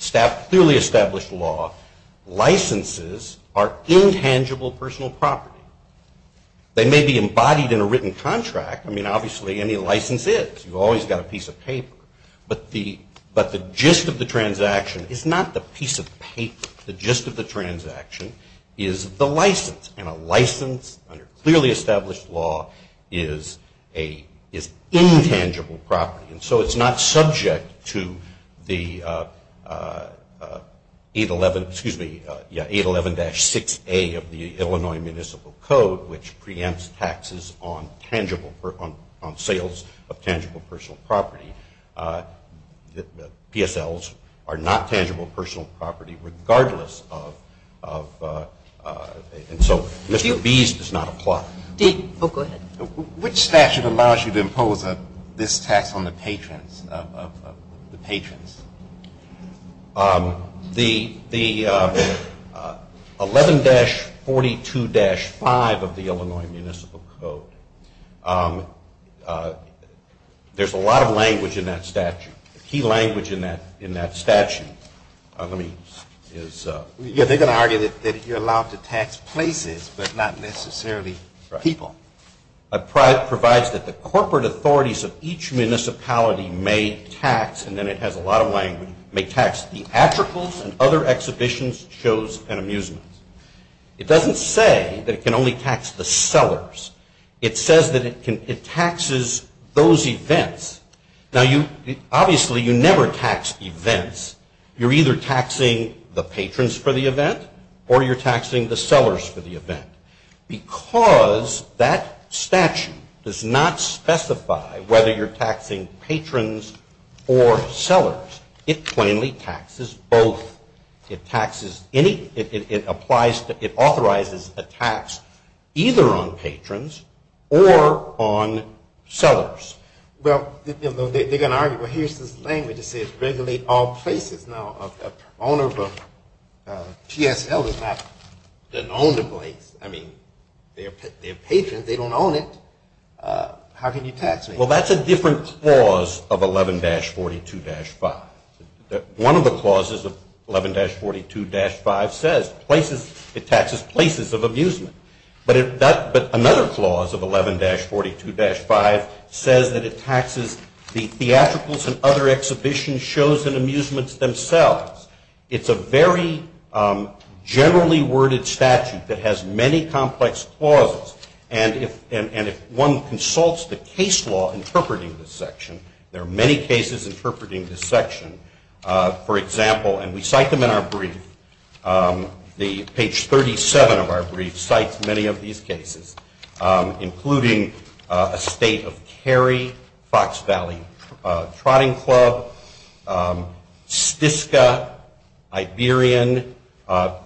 clearly established law, licenses are intangible personal property. They may be embodied in a written contract. I mean, obviously, any license is. You've always got a piece of paper. But the gist of the transaction is not the piece of paper. The gist of the transaction is the license, and a license under clearly established law is intangible property. And so it's not subject to the 811, excuse me, yeah, 811-6A of the Illinois Municipal Code, which preempts taxes on sales of tangible personal property. PSLs are not tangible personal property regardless of, and so Mr. B's does not apply. Go ahead. Which statute allows you to impose this tax on the patrons, the patrons? The 11-42-5 of the Illinois Municipal Code. There's a lot of language in that statute, key language in that statute. Yeah, they're going to argue that you're allowed to tax places, but not necessarily people. It provides that the corporate authorities of each municipality may tax, and then it has a lot of language, may tax theatricals and other exhibitions, shows, and amusements. It doesn't say that it can only tax the sellers. It says that it taxes those events. Now, obviously, you never tax events. You're either taxing the patrons for the event or you're taxing the sellers for the event. Because that statute does not specify whether you're taxing patrons or sellers, it plainly taxes both. It taxes any, it applies to, it authorizes a tax either on patrons or on sellers. Well, they're going to argue, well, here's this language that says regulate all places. Now, a PSL is not an owned place. I mean, they're patrons. They don't own it. How can you tax them? Well, that's a different clause of 11-42-5. One of the clauses of 11-42-5 says it taxes places of amusement. But another clause of 11-42-5 says that it taxes the theatricals and other exhibitions, shows, and amusements themselves. It's a very generally worded statute that has many complex clauses. And if one consults the case law interpreting this section, there are many cases interpreting this section. For example, and we cite them in our brief, the page 37 of our brief cites many of these cases, including a state of Cary, Fox Valley Trotting Club, Stiska, Iberian.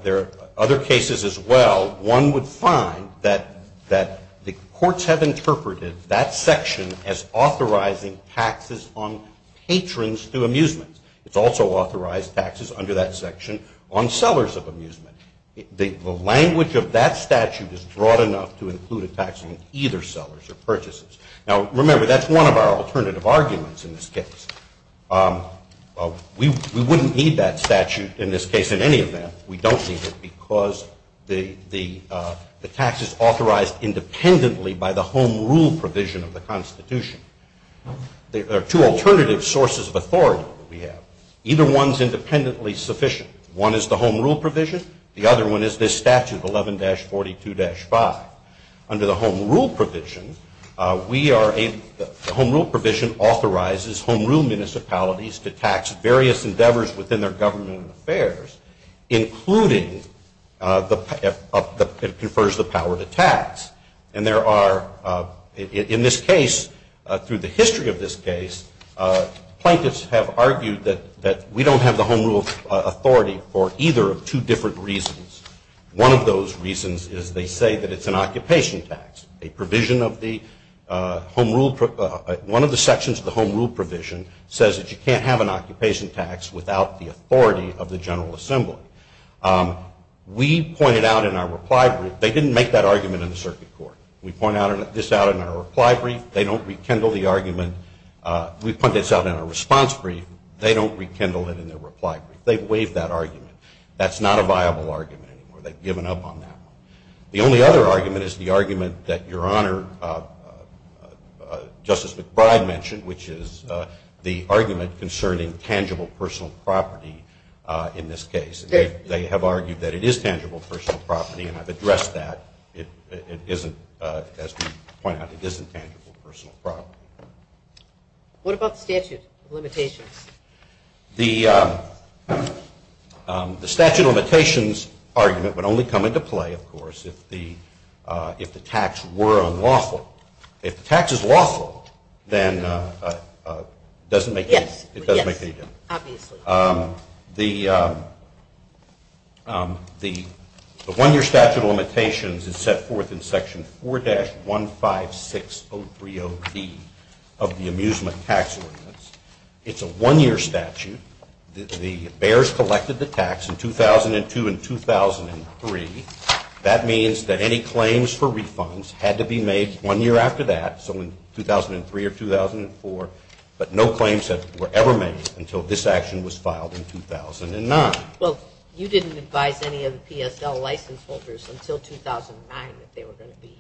There are other cases as well. One would find that the courts have interpreted that section as authorizing taxes on patrons through amusements. It's also authorized taxes under that section on sellers of amusement. The language of that statute is broad enough to include a tax on either sellers or purchases. Now, remember, that's one of our alternative arguments in this case. We wouldn't need that statute in this case, in any event. We don't need it because the tax is authorized independently by the home rule provision of the Constitution. There are two alternative sources of authority that we have. Either one is independently sufficient. One is the home rule provision. The other one is this statute, 11-42-5. Under the home rule provision, we are able to, the home rule provision authorizes home rule municipalities to tax various endeavors within their government and affairs, including it confers the power to tax. And there are, in this case, through the history of this case, plaintiffs have argued that we don't have the home rule authority for either of two different reasons. One of those reasons is they say that it's an occupation tax. A provision of the home rule, one of the sections of the home rule provision says that you can't have an occupation tax without the authority of the General Assembly. We pointed out in our reply brief, they didn't make that argument in the circuit court. We point this out in our reply brief. They don't rekindle the argument. We point this out in our response brief. They don't rekindle it in their reply brief. They've waived that argument. That's not a viable argument anymore. They've given up on that one. The only other argument is the argument that Your Honor, Justice McBride mentioned, which is the argument concerning tangible personal property in this case. They have argued that it is tangible personal property and have addressed that. It isn't, as we point out, it isn't tangible personal property. What about the statute of limitations? The statute of limitations argument would only come into play, of course, if the tax were unlawful. If the tax is lawful, then it doesn't make any difference. Yes, obviously. The one-year statute of limitations is set forth in Section 4-156030B of the amusement tax ordinance. It's a one-year statute. The bears collected the tax in 2002 and 2003. That means that any claims for refunds had to be made one year after that, so in 2003 or 2004, but no claims were ever made until this action was filed in 2009. Well, you didn't advise any of the PSL license holders until 2009 that they were going to be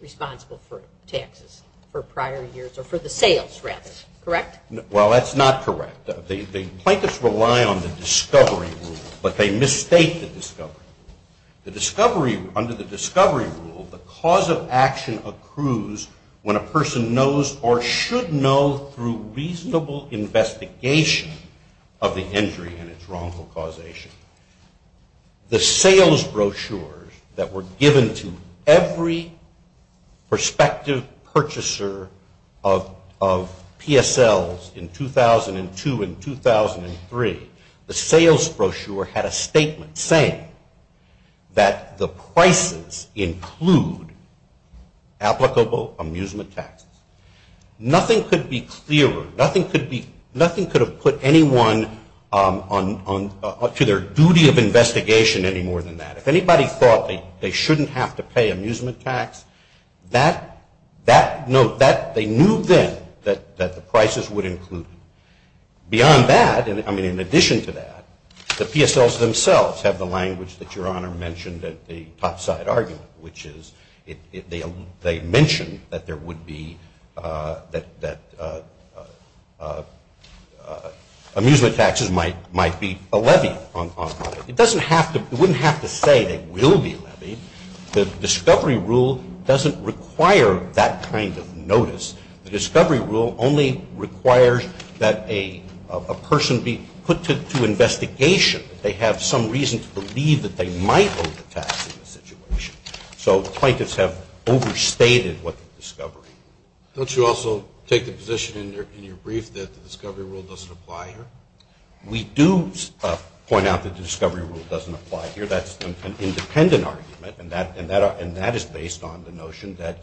responsible for taxes for prior years or for the sales, rather, correct? Well, that's not correct. The plaintiffs rely on the discovery rule, but they misstate the discovery rule. Under the discovery rule, the cause of action accrues when a person knows or should know through reasonable investigation of the injury and its wrongful causation. The sales brochures that were given to every prospective purchaser of PSLs in 2002 and 2003, the sales brochure had a statement saying that the prices include applicable amusement taxes. Nothing could be clearer. Nothing could have put anyone to their duty of investigation any more than that. If anybody thought they shouldn't have to pay amusement tax, they knew then that the prices would include them. Beyond that, I mean, in addition to that, the PSLs themselves have the language that Your Honor mentioned at the topside argument, which is they mentioned that amusement taxes might be a levy on it. It wouldn't have to say they will be levied. The discovery rule doesn't require that kind of notice. The discovery rule only requires that a person be put to investigation, that they have some reason to believe that they might owe the tax in the situation. So plaintiffs have overstated what the discovery rule is. Don't you also take the position in your brief that the discovery rule doesn't apply here? We do point out that the discovery rule doesn't apply here. That's an independent argument, and that is based on the notion that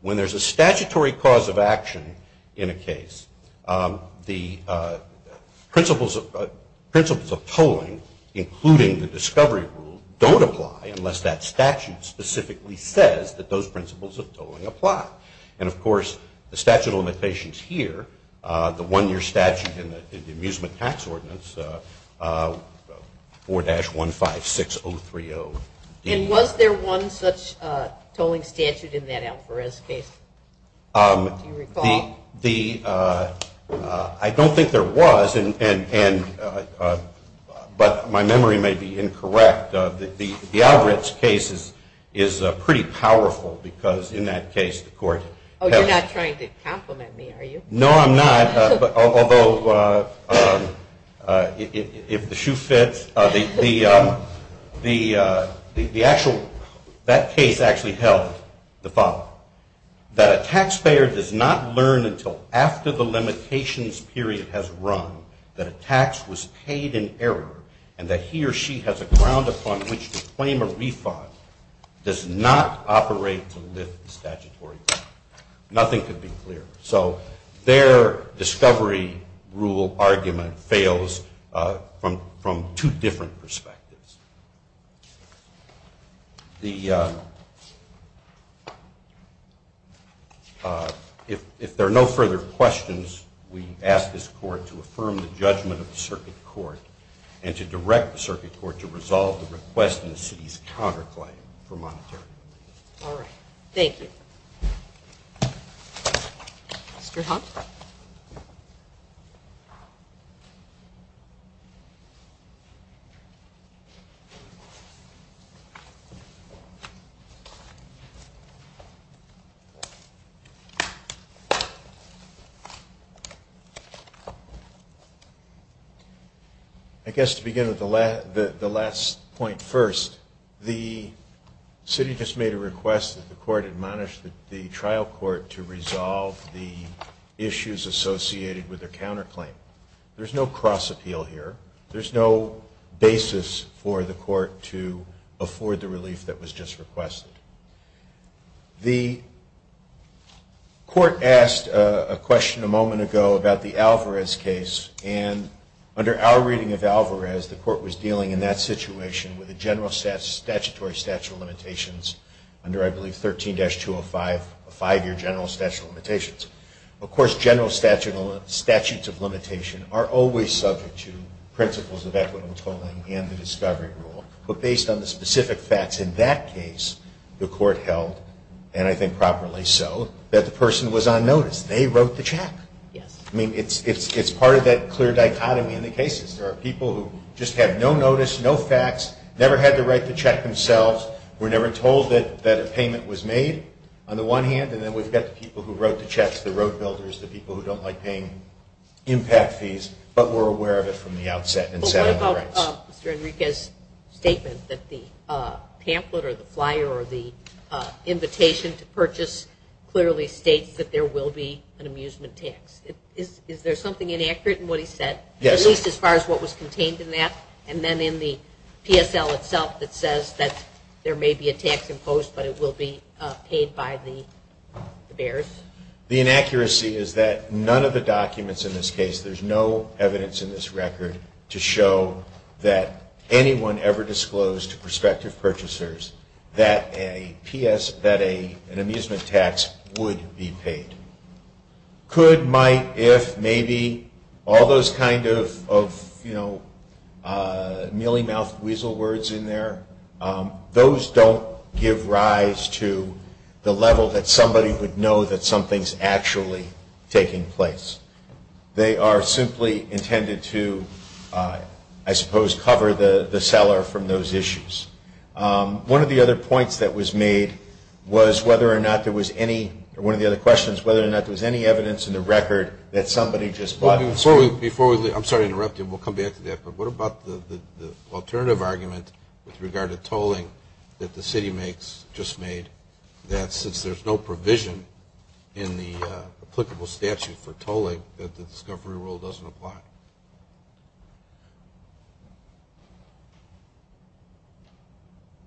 when there's a statutory cause of action in a case, the principles of tolling, including the discovery rule, don't apply unless that statute specifically says that those principles of tolling apply. And, of course, the statute of limitations here, the one-year statute in the amusement tax ordinance, 4-156030. And was there one such tolling statute in that Alferez case? Do you recall? I don't think there was, but my memory may be incorrect. The Alferez case is pretty powerful because, in that case, the court held it. Oh, you're not trying to compliment me, are you? No, I'm not. Although, if the shoe fits, that case actually held the following. That a taxpayer does not learn until after the limitations period has run that a tax was paid in error and that he or she has a ground upon which to claim a refund does not operate to lift the statutory claim. Nothing could be clearer. So their discovery rule argument fails from two different perspectives. If there are no further questions, we ask this court to affirm the judgment of the circuit court and to direct the circuit court to resolve the request in the city's counterclaim for monetary relief. All right. Thank you. Mr. Hunt? I guess to begin with the last point first, the city just made a request that the court admonish the trial court to resolve the issues associated with their counterclaim. There's no cross-appeal here. There's no basis for the court to afford the relief that was just requested. The court asked a question a moment ago about the Alvarez case, and under our reading of Alvarez, the court was dealing in that situation with a general statutory statute of limitations under, I believe, 13-205, a five-year general statute of limitations. Of course, general statutes of limitation are always subject to principles of equitable tolling and the discovery rule. But based on the specific facts in that case, the court held, and I think properly so, that the person was on notice. They wrote the check. Yes. I mean, it's part of that clear dichotomy in the cases. There are people who just have no notice, no facts, never had the right to check themselves, were never told that a payment was made on the one hand, and then we've got the people who wrote the checks, the road builders, the people who don't like paying impact fees but were aware of it from the outset and sat on the rights. I saw Mr. Enriquez's statement that the pamphlet or the flyer or the invitation to purchase clearly states that there will be an amusement tax. Is there something inaccurate in what he said, at least as far as what was contained in that, and then in the PSL itself that says that there may be a tax imposed but it will be paid by the bears? The inaccuracy is that none of the documents in this case, there's no evidence in this record to show that anyone ever disclosed to prospective purchasers that an amusement tax would be paid. Could, might, if, maybe, all those kind of, you know, mealy-mouthed weasel words in there, those don't give rise to the level that somebody would know that something's actually taking place. They are simply intended to, I suppose, cover the seller from those issues. One of the other points that was made was whether or not there was any, or one of the other questions, whether or not there was any evidence in the record that somebody just bought. Before we, I'm sorry to interrupt you, we'll come back to that, but what about the alternative argument with regard to tolling that the city makes, just made, that since there's no provision in the applicable statute for tolling that the discovery rule doesn't apply?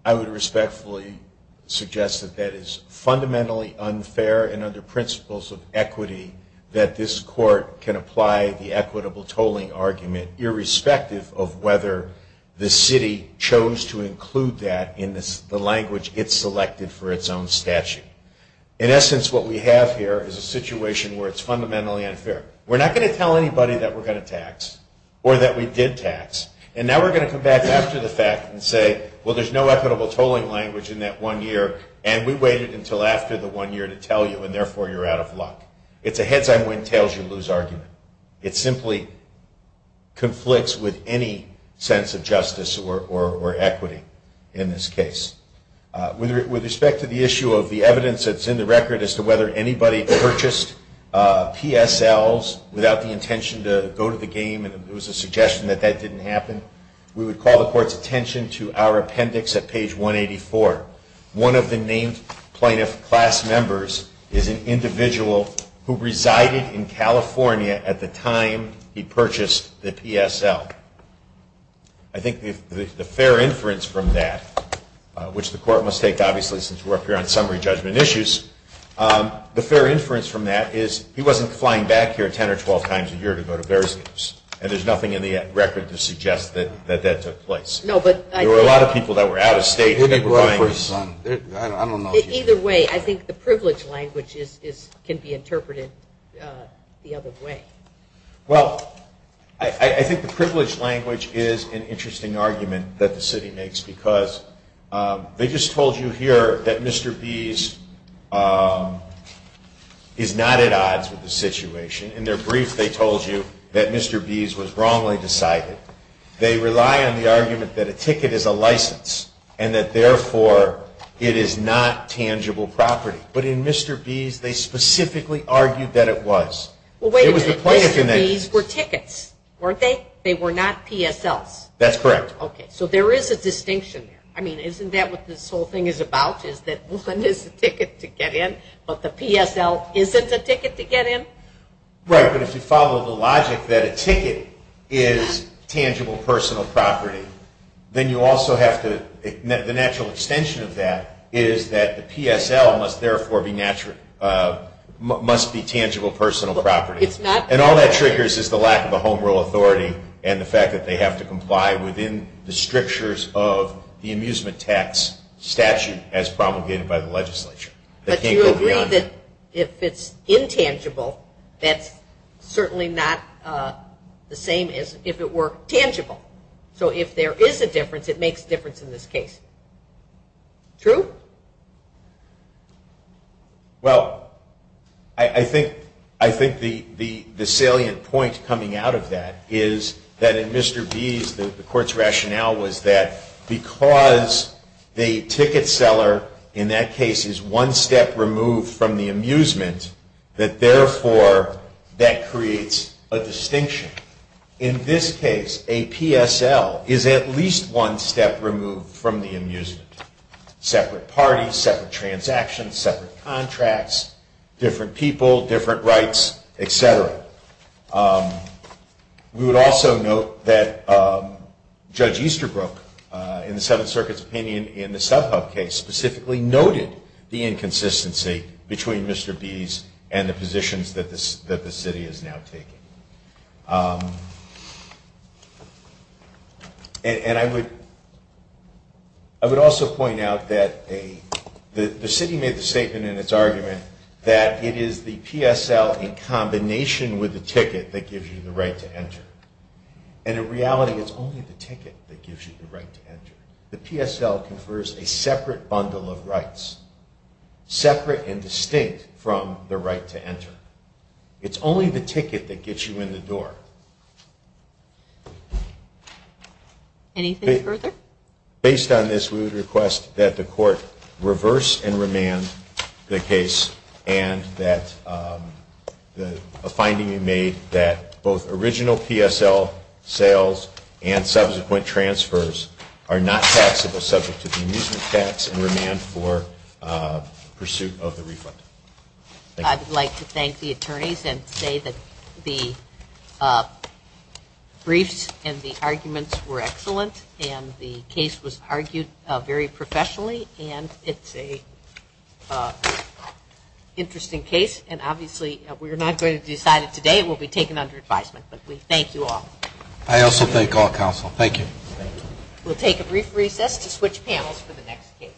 I would respectfully suggest that that is fundamentally unfair and under principles of equity that this court can apply the equitable tolling argument, irrespective of whether the city chose to include that in the language it selected for its own statute. In essence, what we have here is a situation where it's fundamentally unfair. We're not going to tell anybody that we're going to tax, or that we did tax, and now we're going to come back after the fact and say, well, there's no equitable tolling language in that one year, and we waited until after the one year to tell you, and therefore you're out of luck. It's a heads-on, win-tails-you-lose argument. It simply conflicts with any sense of justice or equity in this case. With respect to the issue of the evidence that's in the record as to whether anybody purchased PSLs without the intention to go to the game, and it was a suggestion that that didn't happen, we would call the court's attention to our appendix at page 184. One of the named plaintiff class members is an individual who resided in California at the time he purchased the PSL. I think the fair inference from that, which the court must take, obviously, since we're up here on summary judgment issues, the fair inference from that is he wasn't flying back here 10 or 12 times a year to go to various games, and there's nothing in the record to suggest that that took place. There were a lot of people that were out of state. Either way, I think the privilege language can be interpreted the other way. Well, I think the privilege language is an interesting argument that the city makes because they just told you here that Mr. Bees is not at odds with the situation. In their brief, they told you that Mr. Bees was wrongly decided. They rely on the argument that a ticket is a license and that, therefore, it is not tangible property. But in Mr. Bees, they specifically argued that it was. Well, wait a minute. Mr. Bees were tickets, weren't they? They were not PSLs. That's correct. Okay, so there is a distinction there. I mean, isn't that what this whole thing is about, is that one is a ticket to get in, but the PSL isn't a ticket to get in? Right, but if you follow the logic that a ticket is tangible personal property, then the natural extension of that is that the PSL must, therefore, be tangible personal property. And all that triggers is the lack of a home rule authority and the fact that they have to comply within the strictures of the amusement tax statute as promulgated by the legislature. But you agree that if it's intangible, that's certainly not the same as if it were tangible. So if there is a difference, it makes a difference in this case. True? Well, I think the salient point coming out of that is that in Mr. Bees, the court's rationale was that because the ticket seller in that case is one step removed from the amusement, that therefore that creates a distinction. In this case, a PSL is at least one step removed from the amusement. Separate parties, separate transactions, separate contracts, different people, different rights, et cetera. We would also note that Judge Easterbrook, in the Seventh Circuit's opinion in the Subhub case, specifically noted the inconsistency between Mr. Bees and the positions that the city is now taking. And I would also point out that the city made the statement in its argument that it is the PSL in combination with the ticket that gives you the right to enter. And in reality, it's only the ticket that gives you the right to enter. The PSL confers a separate bundle of rights, separate and distinct from the right to enter. It's only the ticket that gets you in the door. Anything further? Based on this, we would request that the court reverse and remand the case and that a finding be made that both original PSL sales and subsequent transfers are not taxable subject to the amusement tax and remand for pursuit of the refund. I would like to thank the attorneys and say that the briefs and the arguments were excellent and the case was argued very professionally and it's an interesting case. And obviously, we are not going to decide it today. It will be taken under advisement. But we thank you all. I also thank all counsel. Thank you. We'll take a brief recess to switch panels for the next case.